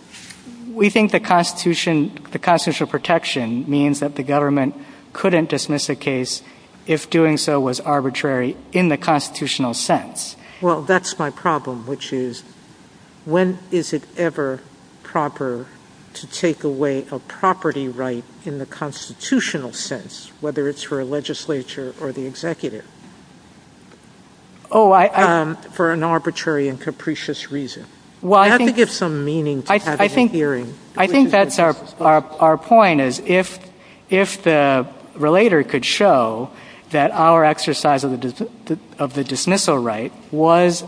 We think the constitutional protection means that the government couldn't dismiss a case if doing so was arbitrary in the constitutional sense. Well, that's my problem, which is, when is it ever proper to take away a property right in the constitutional sense, whether it's for a legislature or the executive, for an arbitrary and capricious reason? You have to give some meaning to having a hearing. I think that's our point, is if the relator could show that our exercise of the dismissal right was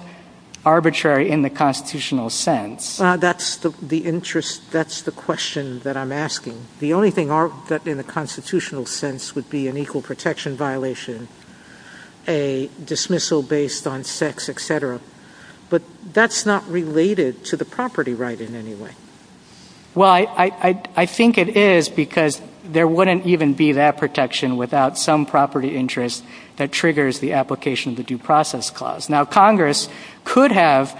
arbitrary in the constitutional sense. That's the question that I'm asking. The only thing in the constitutional sense would be an equal protection violation, a dismissal based on sex, etc. But that's not related to the property right in any way. Well, I think it is because there wouldn't even be that protection without some property interest that triggers the application of the due process clause. Now, Congress could have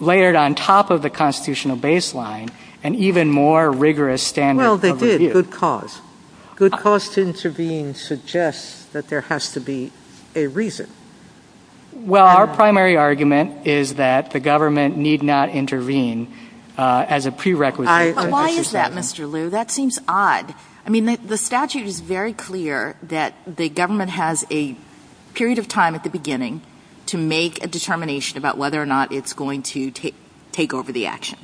layered on top of the constitutional baseline an even more rigorous standard of review. Well, they did, good cause. Good cause to intervene suggests that there has to be a reason. Well, our primary argument is that the government need not intervene as a prerequisite. But why is that, Mr. Liu? That seems odd. I mean, the statute is very clear that the government has a period of time at the beginning to make a determination about whether or not it's going to take over the action.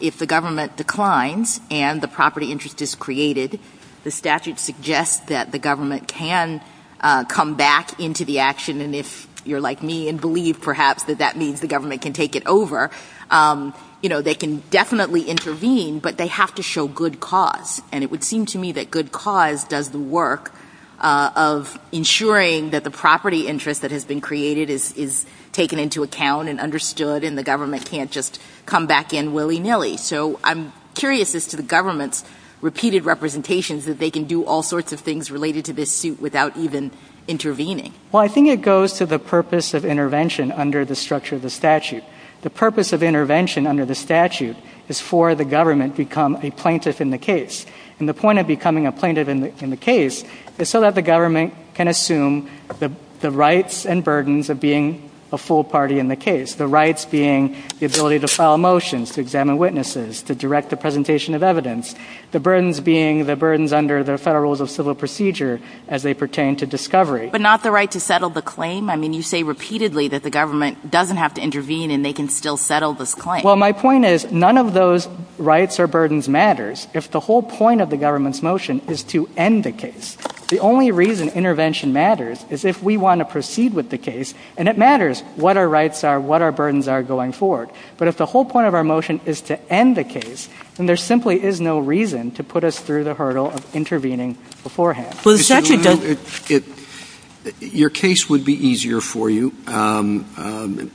If the government declines and the property interest is created, the statute suggests that the government can come back into the action. And if you're like me and believe, perhaps, that that means the government can take it over, they can definitely intervene, but they have to show good cause. And it would seem to me that good cause does the work of ensuring that the property interest that has been created is taken into account and understood So I'm curious as to the government's repeated representations that they can do all sorts of things related to this suit without even intervening. Well, I think it goes to the purpose of intervention under the structure of the statute. The purpose of intervention under the statute is for the government to become a plaintiff in the case. And the point of becoming a plaintiff in the case is so that the government can assume the rights and burdens of being a full party in the case, the rights being the ability to file motions, to examine witnesses, to direct the presentation of evidence, the burdens being the burdens under the Federal Rules of Civil Procedure as they pertain to discovery. But not the right to settle the claim? I mean, you say repeatedly that the government doesn't have to intervene and they can still settle this claim. Well, my point is none of those rights or burdens matters if the whole point of the government's motion is to end the case. The only reason intervention matters is if we want to proceed with the case, and it matters what our rights are, what our burdens are going forward. But if the whole point of our motion is to end the case, then there simply is no reason to put us through the hurdle of intervening beforehand. Your case would be easier for you,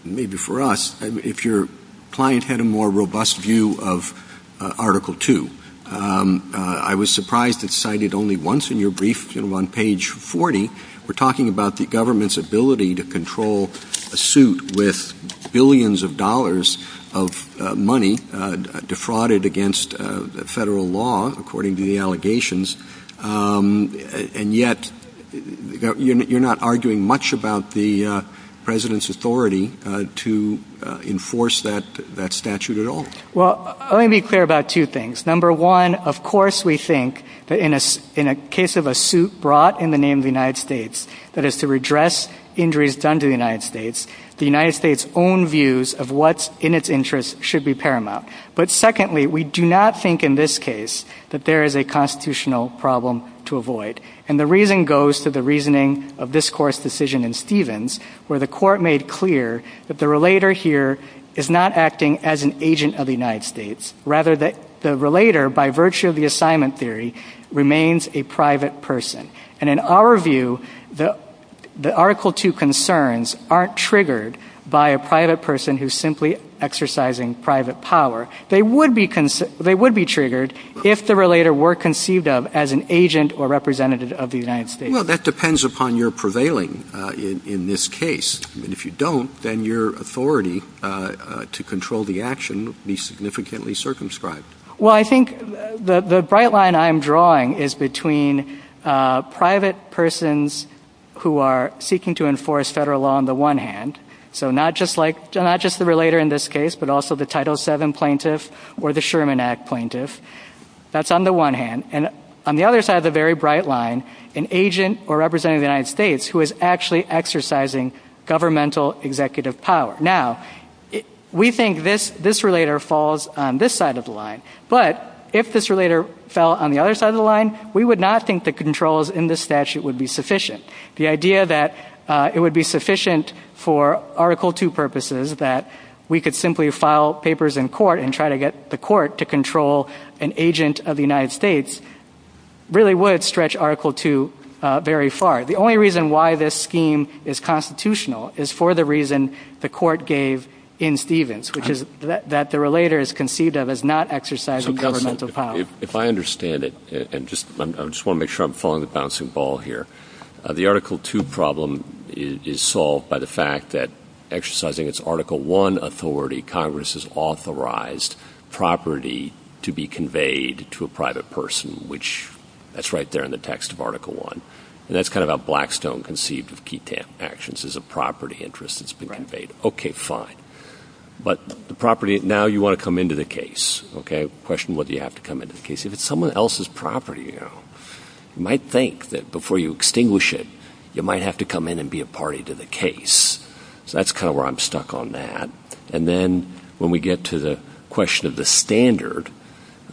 maybe for us, if your client had a more robust view of Article 2. I was surprised it's cited only once in your brief on page 40. We're talking about the government's ability to control a suit with billions of dollars of money defrauded against federal law, according to the allegations, and yet you're not arguing much about the President's authority to enforce that statute at all. Well, let me be clear about two things. Number one, of course we think that in a case of a suit brought in the name of the United States that is to redress injuries done to the United States, the United States' own views of what's in its interest should be paramount. But secondly, we do not think in this case that there is a constitutional problem to avoid, and the reason goes to the reasoning of this Court's decision in Stevens where the Court made clear that the relator here is not acting as an agent of the United States. Rather, the relator, by virtue of the assignment theory, remains a private person. And in our view, the Article 2 concerns aren't triggered by a private person who's simply exercising private power. They would be triggered if the relator were conceived of as an agent or representative of the United States. Well, that depends upon your prevailing in this case. And if you don't, then your authority to control the action would be significantly circumscribed. Well, I think the bright line I'm drawing is between private persons who are seeking to enforce federal law on the one hand, so not just the relator in this case, but also the Title VII plaintiff or the Sherman Act plaintiff. That's on the one hand. And on the other side of the very bright line, an agent or representative of the United States who is actually exercising governmental executive power. Now, we think this relator falls on this side of the line. But if this relator fell on the other side of the line, we would not think the controls in this statute would be sufficient. The idea that it would be sufficient for Article 2 purposes, that we could simply file papers in court and try to get the court to control an agent of the United States, really would stretch Article 2 very far. The only reason why this scheme is constitutional is for the reason the court gave in Stevens, which is that the relator is conceived of as not exercising governmental power. If I understand it, and I just want to make sure I'm following the bouncing ball here, the Article 2 problem is solved by the fact that exercising its Article 1 authority, Congress has authorized property to be conveyed to a private person, which that's right there in the text of Article 1. And that's kind of a blackstone conceived of key actions is a property interest that's been conveyed. Okay, fine. But the property, now you want to come into the case, okay? Question whether you have to come into the case. If it's someone else's property, you know, you might think that before you extinguish it, you might have to come in and be a party to the case. So that's kind of where I'm stuck on that. And then when we get to the question of the standard,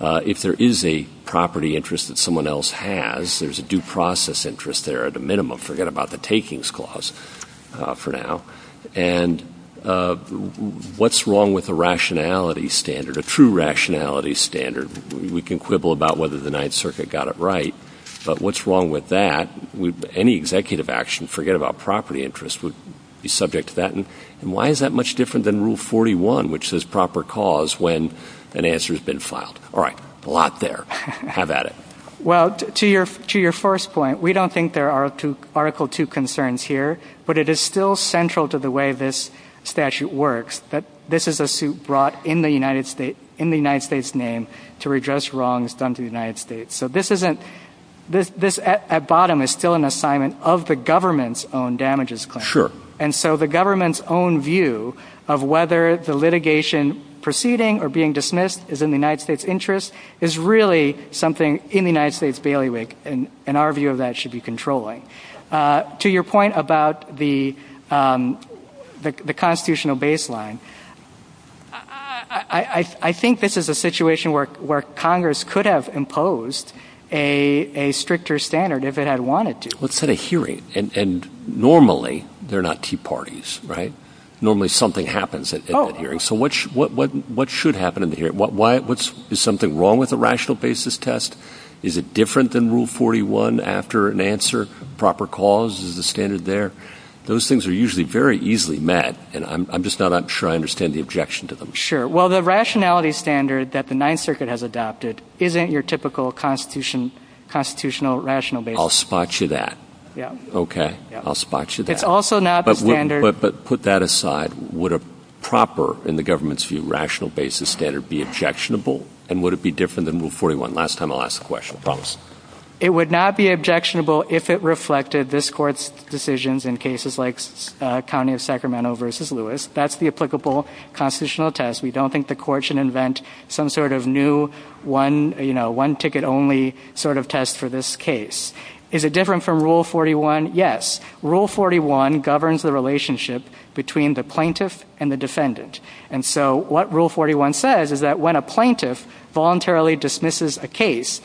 if there is a property interest that someone else has, there's a due process interest there at a minimum. Forget about the takings clause for now. And what's wrong with the rationality standard, a true rationality standard? We can quibble about whether the Ninth Circuit got it right. But what's wrong with that? Any executive action, forget about property interest, would be subject to that. And why is that much different than Rule 41, which says proper cause when an answer has been filed? All right, a lot there. Have at it. Well, to your first point, we don't think there are Article 2 concerns here. But it is still central to the way this statute works, that this is a suit brought in the United States, in the United States' name, to redress wrongs done to the United States. So this at bottom is still an assignment of the government's own damages claim. Sure. And so the government's own view of whether the litigation proceeding or being dismissed is in the United States' interest is really something in the United States' bailiwick, and our view of that should be controlling. To your point about the constitutional baseline, I think this is a situation where Congress could have imposed a stricter standard if it had wanted to. What kind of hearing? And normally they're not tea parties, right? Normally something happens at that hearing. So what should happen in the hearing? Is something wrong with the rational basis test? Is it different than Rule 41 after an answer? Proper cause? Is the standard there? Those things are usually very easily met, and I'm just not sure I understand the objection to them. Sure. Well, the rationality standard that the Ninth Circuit has adopted isn't your typical constitutional rational basis. I'll spot you that. Yeah. Okay. I'll spot you that. It's also not the standard. But put that aside. Would a proper, in the government's view, rational basis standard be objectionable? And would it be different than Rule 41? Last time I'll ask the question. I promise. It would not be objectionable if it reflected this Court's decisions in cases like County of Sacramento v. Lewis. That's the applicable constitutional test. We don't think the Court should invent some sort of new one-ticket-only sort of test for this case. Is it different from Rule 41? Yes. Rule 41 governs the relationship between the plaintiff and the defendant. And so what Rule 41 says is that when a plaintiff voluntarily dismisses a case,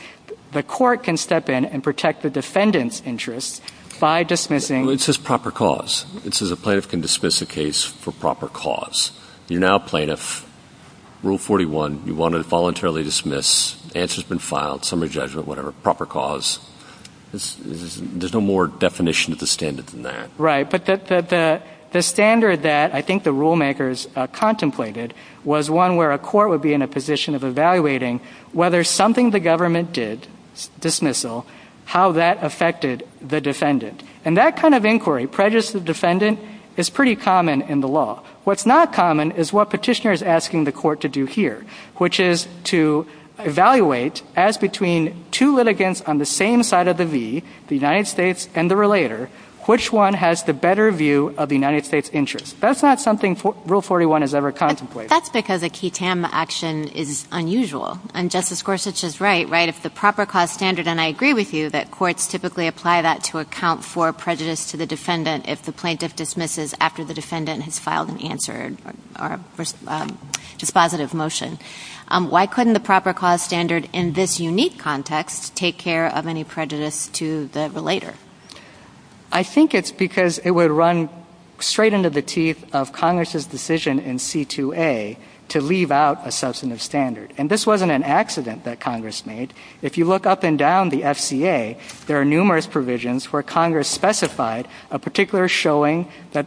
the Court can step in and protect the defendant's interest by dismissing... Well, it says proper cause. It says a plaintiff can dismiss a case for proper cause. You're now a plaintiff. Rule 41, you want to voluntarily dismiss, answer's been filed, summary judgment, whatever, proper cause. There's no more definition of the standard than that. Right, but the standard that I think the rulemakers contemplated was one where a court would be in a position of evaluating whether something the government did, dismissal, how that affected the defendant. And that kind of inquiry, prejudice of the defendant, is pretty common in the law. What's not common is what Petitioner is asking the Court to do here, which is to evaluate as between two litigants on the same side of the V, the United States and the relator, which one has the better view of the United States' interest. That's not something Rule 41 has ever contemplated. But that's because a ketam action is unusual. And Justice Gorsuch is right, right, if the proper cause standard, and I agree with you, that courts typically apply that to account for prejudice to the defendant if the plaintiff dismisses after the defendant has filed an answer or dispositive motion. Why couldn't the proper cause standard in this unique context take care of any prejudice to the relator? I think it's because it would run straight into the teeth of Congress' decision in C-2A to leave out a substantive standard. And this wasn't an accident that Congress made. If you look up and down the FCA, there are numerous provisions where Congress specified a particular showing that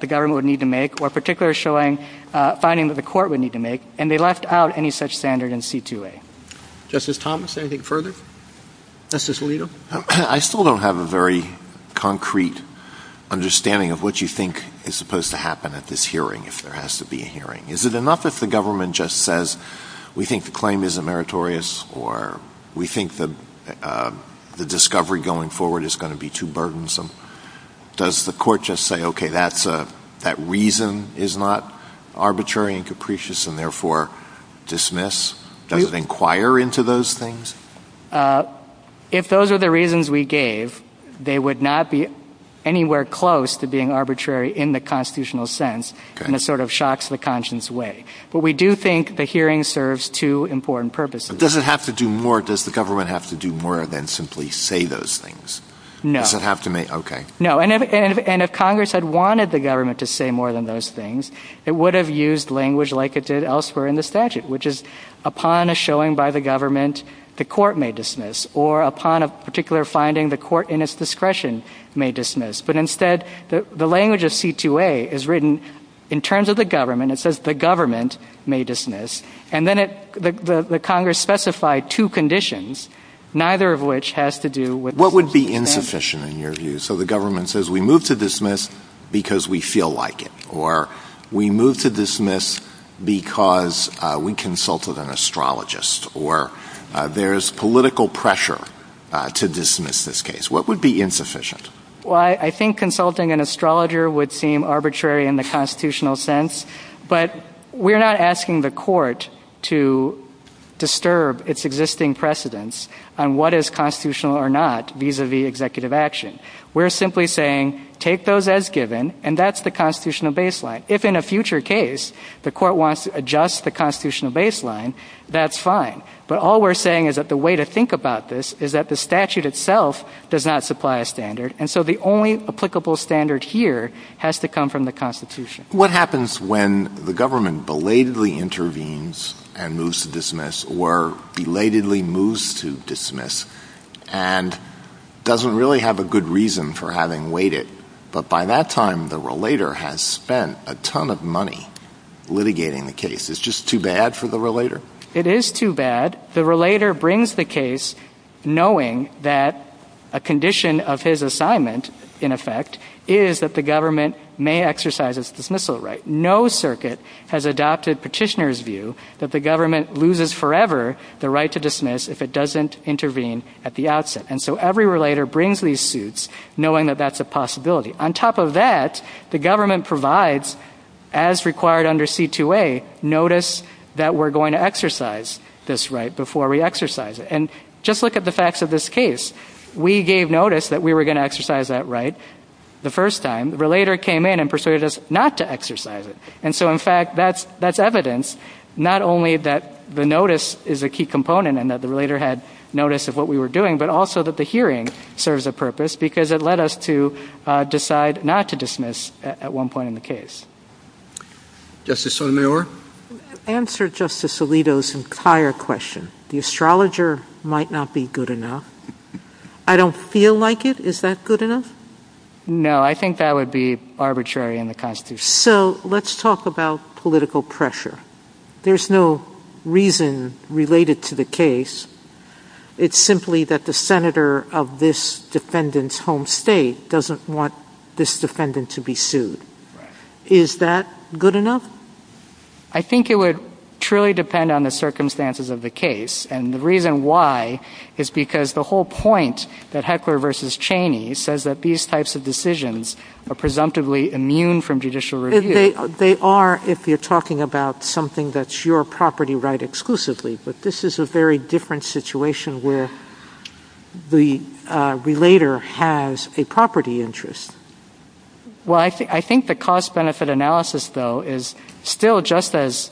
the government would need to make or a particular finding that the court would need to make, and they left out any such standard in C-2A. Justice Thomas, anything further? Justice Alito? I still don't have a very concrete understanding of what you think is supposed to happen at this hearing if there has to be a hearing. Is it enough if the government just says, we think the claim isn't meritorious or we think the discovery going forward is going to be too burdensome? Does the court just say, okay, that reason is not arbitrary and capricious and therefore dismiss? Does it inquire into those things? If those are the reasons we gave, they would not be anywhere close to being arbitrary in the constitutional sense, and it sort of shocks the conscience away. But we do think the hearing serves two important purposes. Does the government have to do more than simply say those things? No. Does it have to make, okay. No, and if Congress had wanted the government to say more than those things, it would have used language like it did elsewhere in the statute, which is upon a showing by the government, the court may dismiss, or upon a particular finding, the court in its discretion may dismiss. But instead, the language of C-2A is written in terms of the government. It says the government may dismiss, and then the Congress specified two conditions, neither of which has to do with what would be insufficient in your view. So the government says we move to dismiss because we feel like it, or we move to dismiss because we consult with an astrologist, or there is political pressure to dismiss this case. What would be insufficient? Well, I think consulting an astrologer would seem arbitrary in the constitutional sense, but we're not asking the court to disturb its existing precedence on what is constitutional or not vis-a-vis executive action. We're simply saying take those as given, and that's the constitutional baseline. If in a future case the court wants to adjust the constitutional baseline, that's fine. But all we're saying is that the way to think about this is that the statute itself does not supply a standard, and so the only applicable standard here has to come from the Constitution. What happens when the government belatedly intervenes and moves to dismiss, or belatedly moves to dismiss, and doesn't really have a good reason for having waited, but by that time the relator has spent a ton of money litigating the case? Is it just too bad for the relator? It is too bad. The relator brings the case knowing that a condition of his assignment, in effect, is that the government may exercise its dismissal right. No circuit has adopted Petitioner's view that the government loses forever the right to dismiss if it doesn't intervene at the outset. And so every relator brings these suits knowing that that's a possibility. On top of that, the government provides, as required under C-2A, notice that we're going to exercise this right before we exercise it. And just look at the facts of this case. We gave notice that we were going to exercise that right the first time. The relator came in and persuaded us not to exercise it. And so, in fact, that's evidence not only that the notice is a key component and that the relator had notice of what we were doing, but also that the hearing serves a purpose because it led us to decide not to dismiss at one point in the case. Justice Sotomayor? To answer Justice Alito's entire question, the astrologer might not be good enough. I don't feel like it. Is that good enough? No, I think that would be arbitrary in the Constitution. So let's talk about political pressure. There's no reason related to the case. It's simply that the senator of this defendant's home state doesn't want this defendant to be sued. Is that good enough? I think it would truly depend on the circumstances of the case. And the reason why is because the whole point that Heckler v. Cheney says that these types of decisions are presumptively immune from judicial review. They are if you're talking about something that's your property right exclusively. But this is a very different situation where the relator has a property interest. Well, I think the cost-benefit analysis, though, is still just as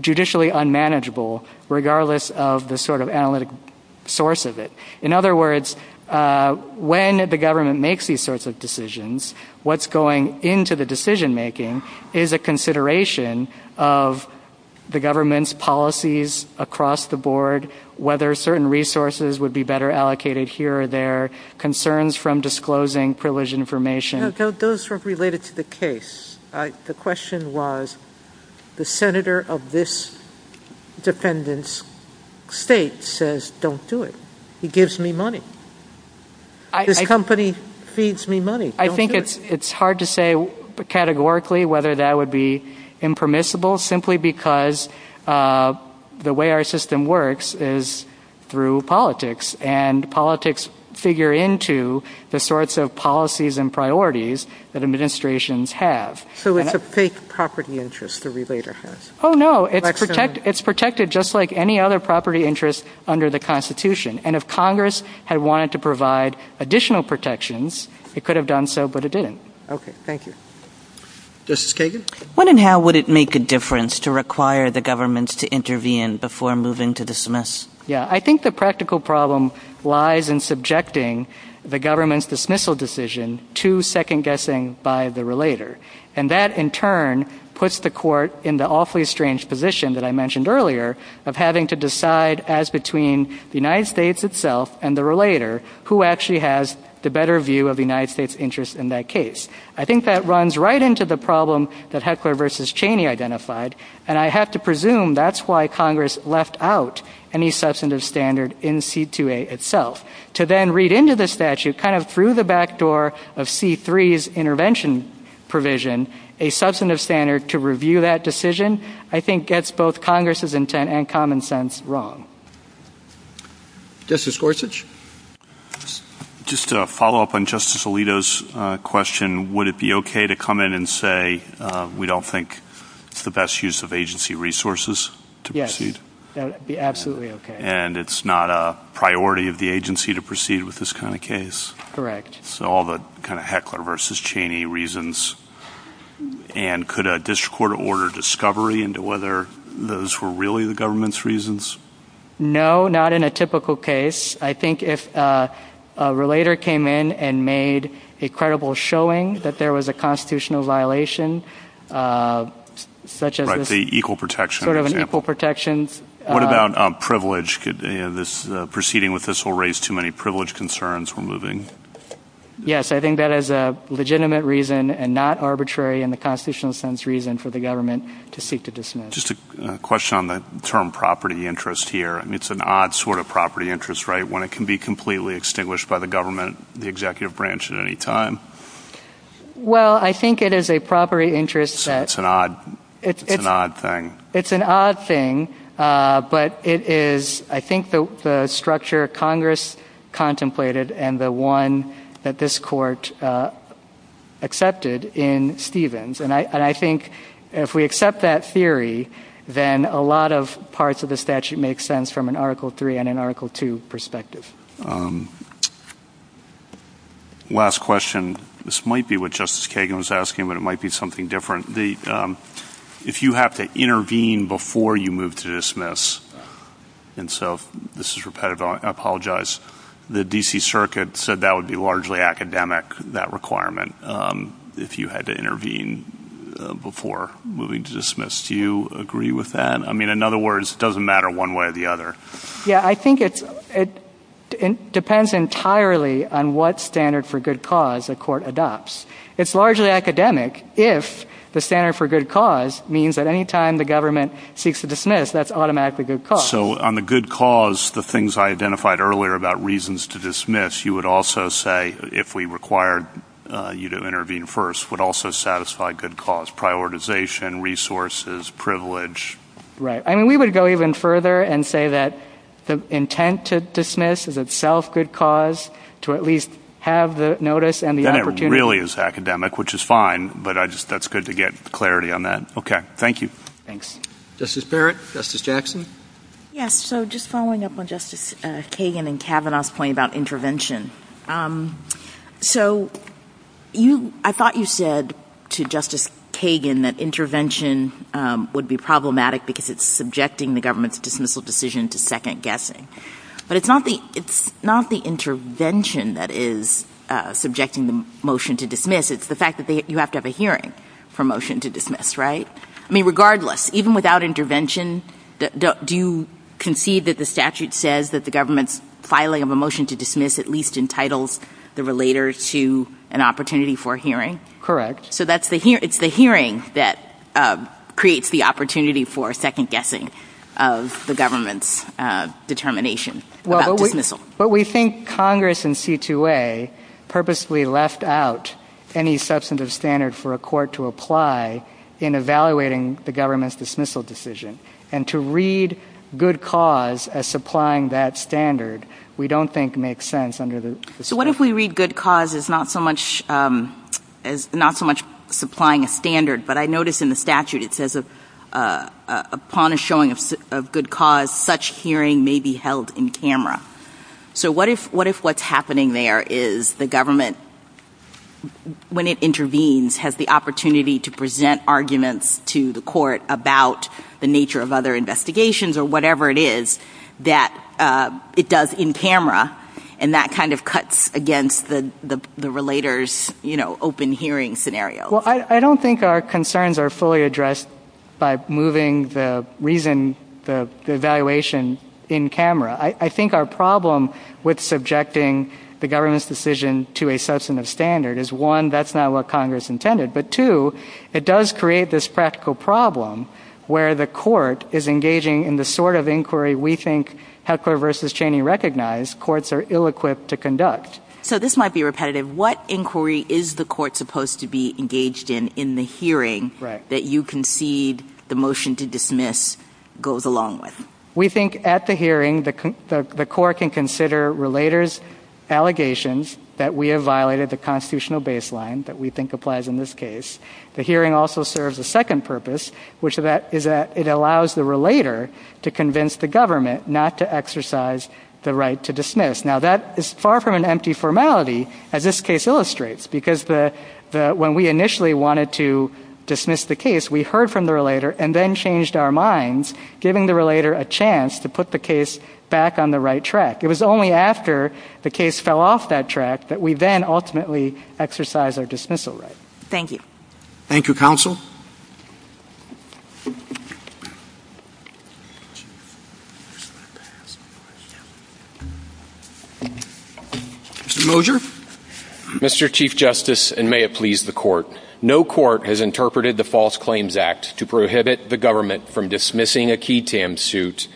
judicially unmanageable regardless of the sort of analytic source of it. In other words, when the government makes these sorts of decisions, what's going into the decision-making is a consideration of the government's policies across the board, whether certain resources would be better allocated here or there, concerns from disclosing privileged information. Those are related to the case. The question was the senator of this defendant's state says, don't do it. He gives me money. This company feeds me money. I think it's hard to say categorically whether that would be impermissible simply because the way our system works is through politics. And politics figure into the sorts of policies and priorities that administrations have. So it's a fake property interest the relator has. Oh, no. It's protected just like any other property interest under the Constitution. And if Congress had wanted to provide additional protections, it could have done so, but it didn't. Okay. Thank you. Justice Kagan? When and how would it make a difference to require the government to intervene before moving to dismiss? Yeah, I think the practical problem lies in subjecting the government's dismissal decision to second-guessing by the relator. And that, in turn, puts the court in the awfully strange position that I mentioned earlier of having to decide as between the United States itself and the relator who actually has the better view of the United States' interest in that case. I think that runs right into the problem that Heckler v. Cheney identified, and I have to presume that's why Congress left out any substantive standard in C-2A itself. To then read into the statute kind of through the back door of C-3's intervention provision a substantive standard to review that decision I think gets both Congress' intent and common sense wrong. Justice Gorsuch? Just to follow up on Justice Alito's question, would it be okay to come in and say we don't think it's the best use of agency resources to proceed? Yes, that would be absolutely okay. And it's not a priority of the agency to proceed with this kind of case? Correct. So all the kind of Heckler v. Cheney reasons. And could a district court order discovery into whether those were really the government's reasons? No, not in a typical case. I think if a relator came in and made a credible showing that there was a constitutional violation, such as an equal protection example. What about privilege? Proceeding with this will raise too many privilege concerns when moving. Yes, I think that is a legitimate reason and not arbitrary in the constitutional sense reason for the government to seek to dismiss. Just a question on the term property interest here. It's an odd sort of property interest, right, when it can be completely extinguished by the government, the executive branch at any time? Well, I think it is a property interest. It's an odd thing. It's an odd thing, but it is, I think, the structure Congress contemplated and the one that this court accepted in Stevens. And I think if we accept that theory, then a lot of parts of the statute make sense from an Article III and an Article II perspective. Last question. This might be what Justice Kagan was asking, but it might be something different. If you have to intervene before you move to dismiss, and so this is repetitive, I apologize. The D.C. Circuit said that would be largely academic, that requirement, if you had to intervene before moving to dismiss. Do you agree with that? I mean, in other words, it doesn't matter one way or the other. Yeah, I think it depends entirely on what standard for good cause the court adopts. It's largely academic if the standard for good cause means that any time the government seeks to dismiss, that's automatically good cause. Also, on the good cause, the things I identified earlier about reasons to dismiss, you would also say, if we required you to intervene first, would also satisfy good cause, prioritization, resources, privilege. Right. I mean, we would go even further and say that the intent to dismiss is itself good cause to at least have the notice and the opportunity. Then it really is academic, which is fine, but that's good to get clarity on that. Okay. Thank you. Thanks. Justice Barrett? Justice Jackson? Yes, so just following up on Justice Kagan and Kavanaugh's point about intervention. So I thought you said to Justice Kagan that intervention would be problematic because it's subjecting the government's dismissal decision to second-guessing. But it's not the intervention that is subjecting the motion to dismiss. It's the fact that you have to have a hearing for a motion to dismiss, right? I mean, regardless, even without intervention, do you concede that the statute says that the government's filing of a motion to dismiss at least entitles the relator to an opportunity for a hearing? Correct. So it's the hearing that creates the opportunity for a second-guessing of the government's determination about dismissal. But we think Congress in C-2A purposely left out any substantive standard for a court to apply in evaluating the government's dismissal decision. And to read good cause as supplying that standard we don't think makes sense under the statute. What if we read good cause as not so much supplying a standard, but I notice in the statute it says, upon a showing of good cause, such hearing may be held in camera. So what if what's happening there is the government, when it intervenes, has the opportunity to present arguments to the court about the nature of other investigations or whatever it is that it does in camera, and that kind of cuts against the relator's open hearing scenario? Well, I don't think our concerns are fully addressed by moving the reason, the evaluation, in camera. I think our problem with subjecting the government's decision to a substantive standard is, one, that's not what Congress intended, but two, it does create this practical problem where the court is engaging in the sort of inquiry we think Headquarters v. Cheney recognized courts are ill-equipped to conduct. So this might be repetitive. What inquiry is the court supposed to be engaged in in the hearing that you concede the motion to dismiss goes along with? We think at the hearing the court can consider relator's allegations that we have violated the constitutional baseline that we think applies in this case. The hearing also serves a second purpose, which is that it allows the relator to convince the government not to exercise the right to dismiss. Now, that is far from an empty formality, as this case illustrates, because when we initially wanted to dismiss the case, we heard from the relator and then changed our minds, giving the relator a chance to put the case back on the right track. It was only after the case fell off that track that we then ultimately exercised our dismissal right. Thank you. Mr. Moger? Mr. Chief Justice, and may it please the court, no court has interpreted the False Claims Act to prohibit the government from dismissing a QI-TAM suit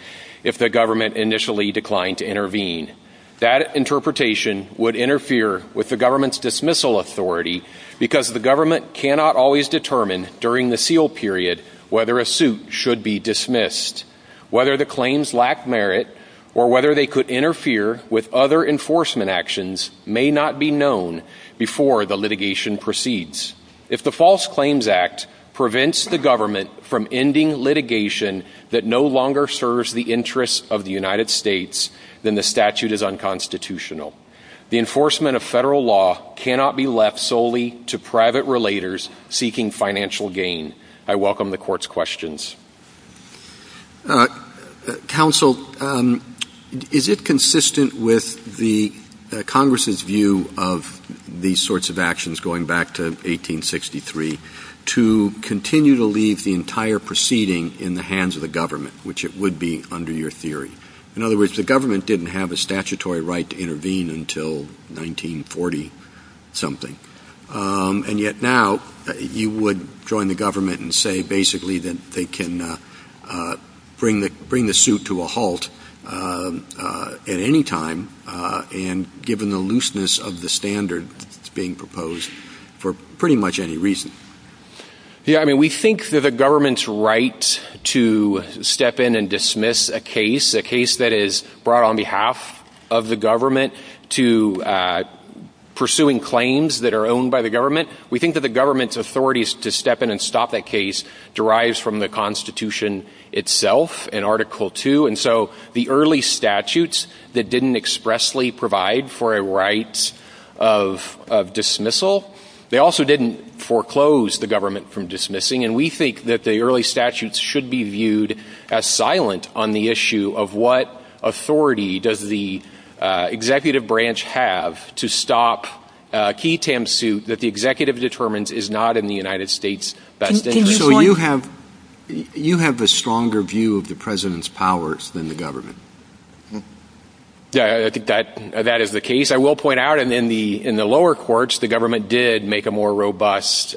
if the government initially declined to intervene. That interpretation would interfere with the government's dismissal authority because the government cannot always determine during the seal period whether a suit should be dismissed. Whether the claims lack merit or whether they could interfere with other enforcement actions may not be known before the litigation proceeds. If the False Claims Act prevents the government from ending litigation that no longer serves the interests of the United States, then the statute is unconstitutional. The enforcement of federal law cannot be left solely to private relators seeking financial gain. I welcome the court's questions. Counsel, is it consistent with Congress's view of these sorts of actions going back to 1863 to continue to leave the entire proceeding in the hands of the government, which it would be under your theory? In other words, the government didn't have a statutory right to intervene until 1940-something. And yet now, you would join the government and say basically that they can bring the suit to a halt at any time, and given the looseness of the standard being proposed, for pretty much any reason. Yeah, I mean, we think that the government's right to step in and dismiss a case, a case that is brought on behalf of the government to pursuing claims that are owned by the government, we think that the government's authority to step in and stop that case derives from the Constitution itself and Article II. And so the early statutes that didn't expressly provide for a right of dismissal, they also didn't foreclose the government from dismissing. And we think that the early statutes should be viewed as silent on the issue of what authority does the executive branch have to stop a key tam suit that the executive determines is not in the United States. So you have a stronger view of the president's powers than the government? Yeah, I think that is the case. I will point out in the lower courts, the government did make a more robust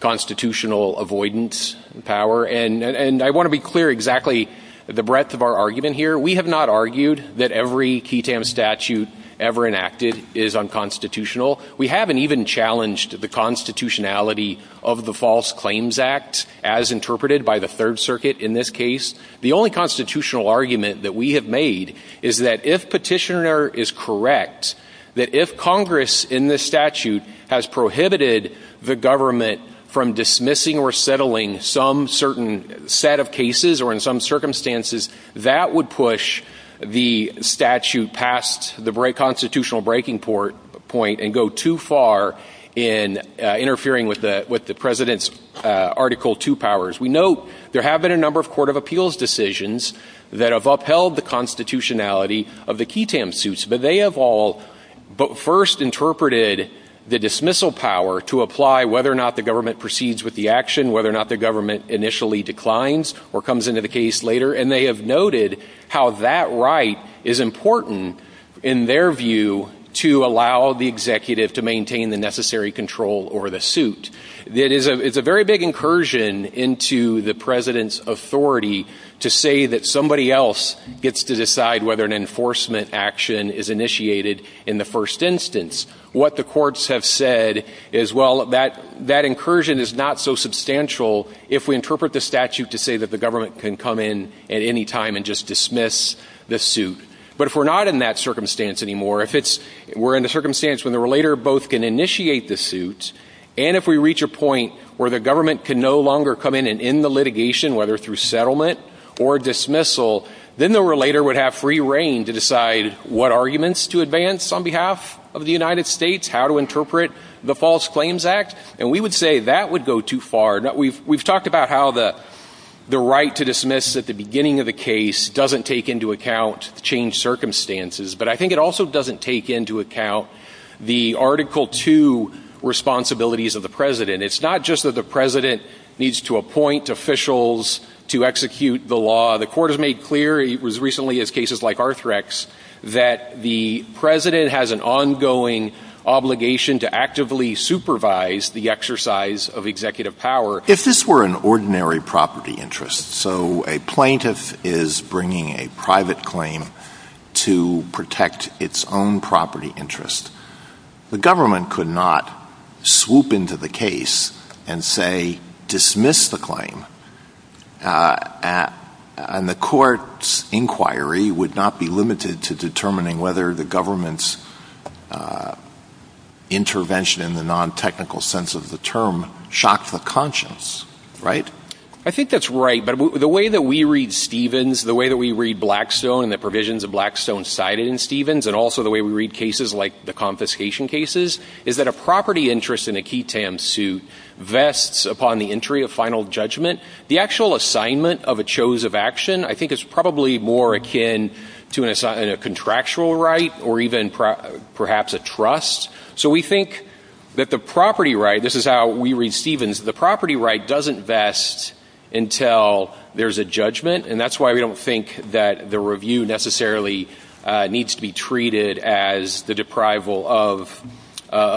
constitutional avoidance of power. And I want to be clear exactly the breadth of our argument here. We have not argued that every key tam statute ever enacted is unconstitutional. We haven't even challenged the constitutionality of the False Claims Act as interpreted by the Third Circuit in this case. The only constitutional argument that we have made is that if petitioner is correct, that if Congress in this statute has prohibited the government from dismissing or settling some certain set of cases or in some circumstances, that would push the statute past the constitutional breaking point and go too far in interfering with the president's Article II powers. We note there have been a number of Court of Appeals decisions that have upheld the constitutionality of the key tam suits, but they have all first interpreted the dismissal power to apply whether or not the government proceeds with the action, whether or not the government initially declines or comes into the case later, and they have noted how that right is important in their view to allow the executive to maintain the necessary control over the suit. It is a very big incursion into the president's authority to say that somebody else gets to decide whether an enforcement action is initiated in the first instance. What the courts have said is, well, that incursion is not so substantial if we interpret the statute to say that the government can come in at any time and just dismiss the suit. But if we're not in that circumstance anymore, if we're in the circumstance where the relator both can initiate the suit, and if we reach a point where the government can no longer come in and end the litigation, whether through settlement or dismissal, then the relator would have free reign to decide what arguments to advance on behalf of the United States, how to interpret the False Claims Act, and we would say that would go too far. We've talked about how the right to dismiss at the beginning of the case doesn't take into account changed circumstances, but I think it also doesn't take into account the Article II responsibilities of the president. It's not just that the president needs to appoint officials to execute the law. The court has made clear as recently as cases like Arthrex that the president has an ongoing obligation to actively supervise the exercise of executive power. If this were an ordinary property interest, so a plaintiff is bringing a private claim to protect its own property interest, the government could not swoop into the case and say, dismiss the claim, and the court's inquiry would not be limited to determining whether the government's intervention in the non-technical sense of the term shocked the conscience, right? I think that's right, but the way that we read Stevens, the way that we read Blackstone, the provisions of Blackstone cited in Stevens, and also the way we read cases like the confiscation cases, is that a property interest in a QTAM suit vests upon the entry of final judgment. The actual assignment of a chose of action, I think, is probably more akin to a contractual right or even perhaps a trust. So we think that the property right, this is how we read Stevens, the property right doesn't vest until there's a judgment, and that's why we don't think that the review necessarily needs to be treated as the deprival of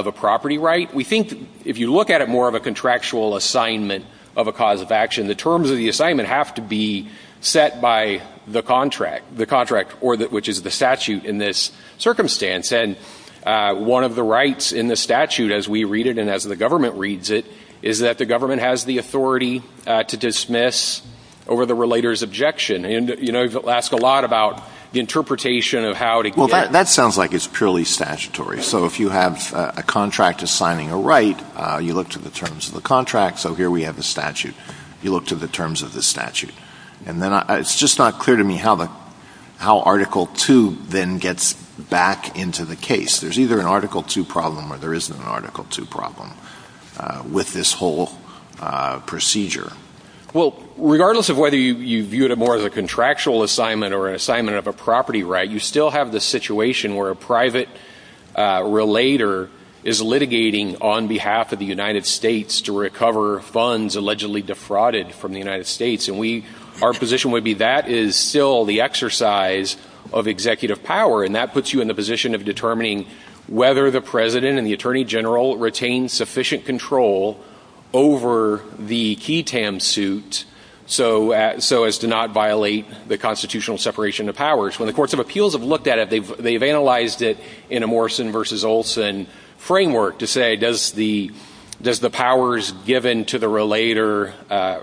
a property right. We think if you look at it more of a contractual assignment of a chose of action, the terms of the assignment have to be set by the contract, which is the statute in this circumstance. And one of the rights in the statute, as we read it and as the government reads it, is that the government has the authority to dismiss over the relator's objection. And, you know, you'll ask a lot about the interpretation of how to get… Well, that sounds like it's purely statutory. So if you have a contract assigning a right, you look to the terms of the contract, so here we have the statute. You look to the terms of the statute. It's just not clear to me how Article II then gets back into the case. There's either an Article II problem or there isn't an Article II problem with this whole procedure. Well, regardless of whether you view it more as a contractual assignment or an assignment of a property right, you still have the situation where a private relator is litigating on behalf of the United States to recover funds allegedly defrauded from the United States. And our position would be that is still the exercise of executive power, and that puts you in the position of determining whether the president and the attorney general retain sufficient control over the QETAM suit so as to not violate the constitutional separation of powers. When the courts of appeals have looked at it, they've analyzed it in a Morrison v. Olson framework to say, does the powers given to the relator,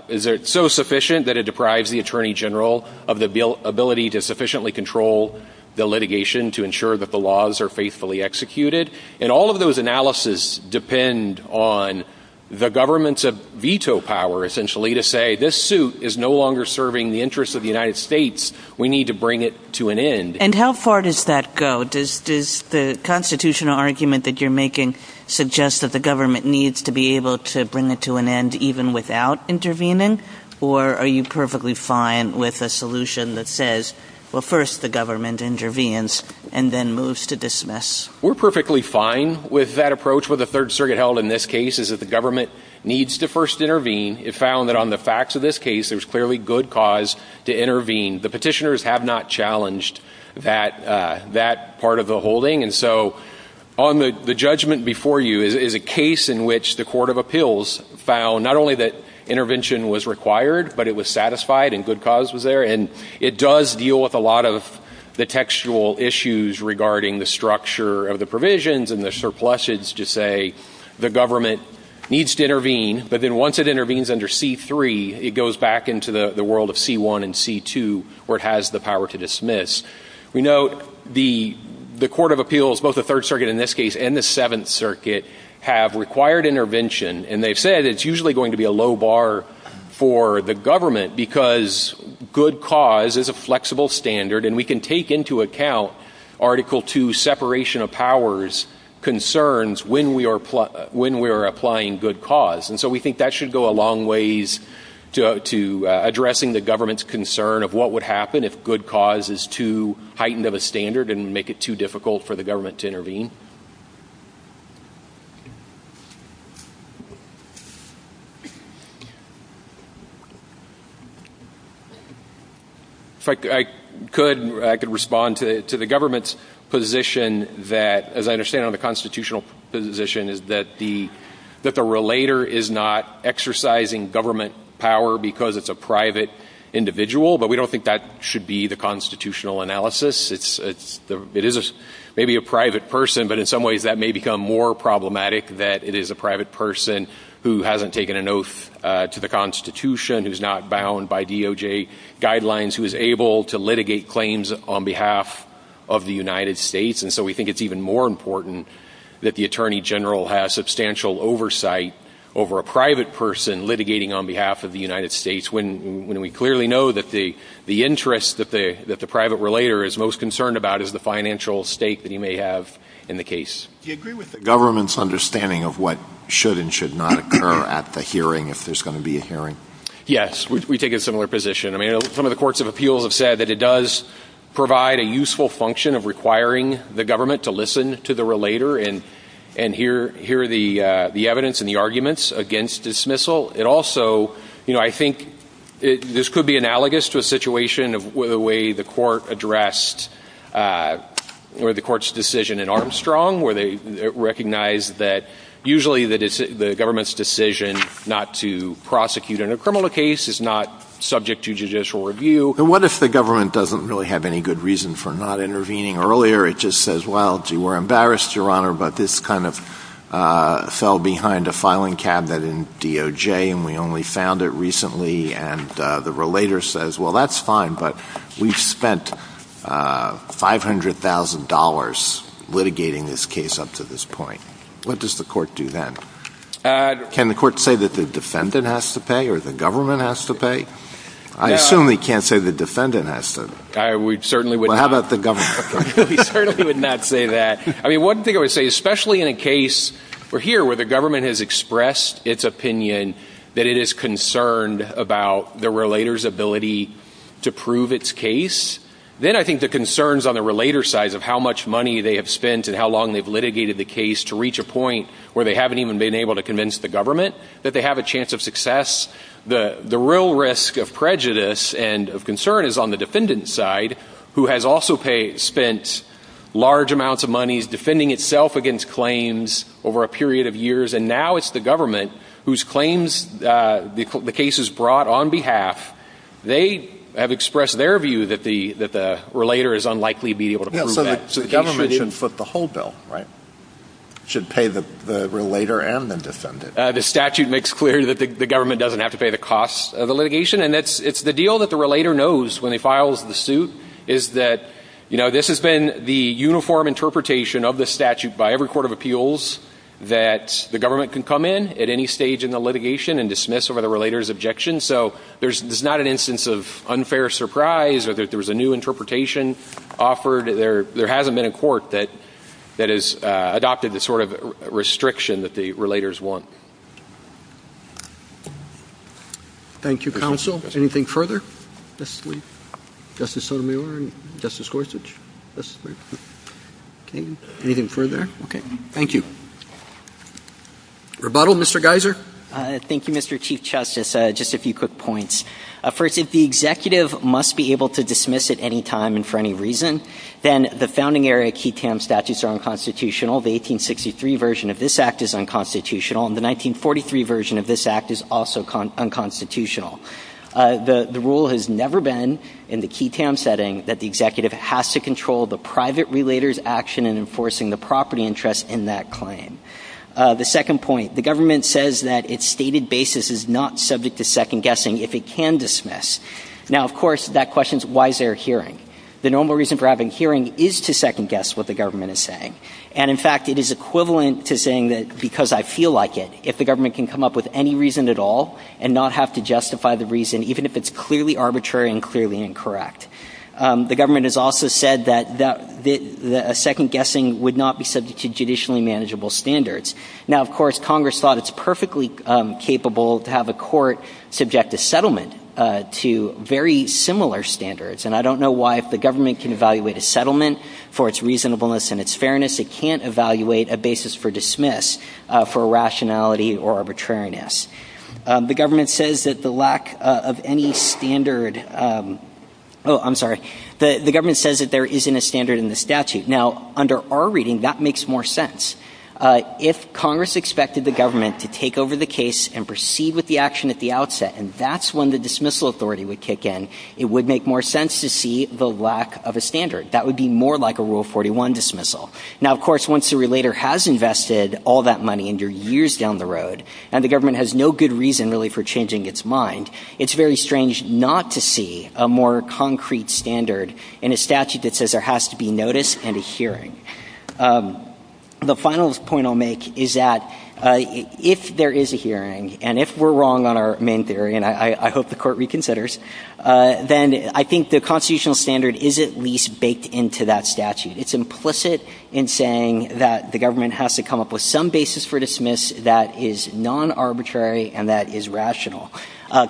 is it so sufficient that it deprives the attorney general of the ability to sufficiently control the litigation to ensure that the laws are faithfully executed? And all of those analyses depend on the government's veto power, essentially, to say this suit is no longer serving the interests of the United States. We need to bring it to an end. And how far does that go? Does the constitutional argument that you're making suggest that the government needs to be able to bring it to an end even without intervening? Or are you perfectly fine with a solution that says, well, first the government intervenes and then moves to dismiss? We're perfectly fine with that approach. What the Third Circuit held in this case is that the government needs to first intervene. It found that on the facts of this case, there's clearly good cause to intervene. The petitioners have not challenged that part of the holding. And so on the judgment before you is a case in which the court of appeals found not only that intervention was required, but it was satisfied and good cause was there. And it does deal with a lot of the textual issues regarding the structure of the provisions and the surpluses to say the government needs to intervene. But then once it intervenes under C-3, it goes back into the world of C-1 and C-2 where it has the power to dismiss. We note the court of appeals, both the Third Circuit in this case and the Seventh Circuit, have required intervention. And they've said it's usually going to be a low bar for the government because good cause is a flexible standard. And we can take into account Article II separation of powers concerns when we are applying good cause. And so we think that should go a long ways to addressing the government's concern of what would happen if good cause is too heightened of a standard and make it too difficult for the government to intervene. If I could, I could respond to the government's position that, as I understand it, the constitutional position is that the relator is not exercising government power because it's a private individual, but we don't think that should be the constitutional analysis. It is maybe a private person, but in some ways that may become more problematic that it is a private person who hasn't taken an oath to the Constitution, who's not bound by DOJ guidelines, who is able to litigate claims on behalf of the United States. And so we think it's even more important that the Attorney General has substantial oversight over a private person litigating on behalf of the United States when we clearly know that the interest that the private relator is most concerned about is the financial stake that he may have in the case. Do you agree with the government's understanding of what should and should not occur at the hearing, if there's going to be a hearing? Yes, we take a similar position. I mean, some of the courts of appeals have said that it does provide a useful function of requiring the government to listen to the relator and hear the evidence and the arguments against dismissal. It also, you know, I think this could be analogous to a situation of the way the court addressed the court's decision in Armstrong, where they recognized that usually the government's decision not to prosecute in a criminal case is not subject to judicial review. And what if the government doesn't really have any good reason for not intervening earlier? It just says, well, we're embarrassed, Your Honor, but this kind of fell behind a filing cabinet in DOJ and we only found it recently, and the relator says, well, that's fine, but we've spent $500,000 litigating this case up to this point. What does the court do then? Can the court say that the defendant has to pay or the government has to pay? I assume we can't say the defendant has to. Well, how about the government? We certainly would not say that. I mean, one thing I would say, especially in a case where the government has expressed its opinion that it is concerned about the relator's ability to prove its case, then I think the concerns on the relator's side of how much money they have spent and how long they've litigated the case to reach a point where they haven't even been able to convince the government that they have a chance of success. The real risk of prejudice and of concern is on the defendant's side, who has also spent large amounts of money defending itself against claims over a period of years, and now it's the government whose claims the case is brought on behalf. They have expressed their view that the relator is unlikely to be able to prove that. So the government shouldn't flip the whole bill, right? It should pay the relator and the defendant. The statute makes clear that the government doesn't have to pay the costs of the litigation, and it's the deal that the relator knows when he files the suit, is that this has been the uniform interpretation of the statute by every court of appeals that the government can come in at any stage in the litigation and dismiss over the relator's objection. So there's not an instance of unfair surprise, or that there was a new interpretation offered. There hasn't been a court that has adopted the sort of restriction that the relators want. Thank you, counsel. Anything further? Justice Sotomayor and Justice Gorsuch. Anything further? Okay. Thank you. Rebuttal, Mr. Geiser. Thank you, Mr. Chief Justice. Just a few quick points. First, if the executive must be able to dismiss at any time and for any reason, then the founding area QI-TAM statutes are unconstitutional. The 1863 version of this Act is unconstitutional, and the 1943 version of this Act is also unconstitutional. The rule has never been, in the QI-TAM setting, that the executive has to control the private relator's action in enforcing the property interest in that claim. The second point, the government says that its stated basis is not subject to second-guessing if it can dismiss. Now, of course, that question is, why is there a hearing? The normal reason for having a hearing is to second-guess what the government is saying. And, in fact, it is equivalent to saying that because I feel like it, if the government can come up with any reason at all and not have to justify the reason, even if it's clearly arbitrary and clearly incorrect. The government has also said that second-guessing would not be subject to judicially manageable standards. Now, of course, Congress thought it's perfectly capable to have a court subject a settlement to very similar standards, and I don't know why if the government can evaluate a settlement for its reasonableness and its fairness, it can't evaluate a basis for dismiss for irrationality or arbitrariness. The government says that the lack of any standard... Oh, I'm sorry. The government says that there isn't a standard in the statute. Now, under our reading, that makes more sense. If Congress expected the government to take over the case and proceed with the action at the outset, and that's when the dismissal authority would kick in, it would make more sense to see the lack of a standard. That would be more like a Rule 41 dismissal. Now, of course, once the relator has invested all that money and you're years down the road, and the government has no good reason, really, for changing its mind, it's very strange not to see a more concrete standard in a statute that says there has to be notice and a hearing. The final point I'll make is that if there is a hearing, and if we're wrong on our main theory, and I hope the Court reconsiders, then I think the constitutional standard is at least baked into that statute. It's implicit in saying that the government has to come up with some basis for dismiss that is non-arbitrary and that is rational.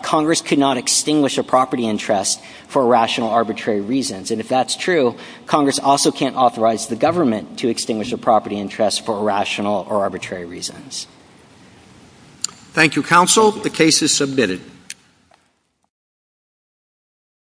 Congress could not extinguish a property interest for rational, arbitrary reasons. And if that's true, Congress also can't authorize the government to extinguish a property interest for rational or arbitrary reasons. Thank you, Counsel. The case is submitted.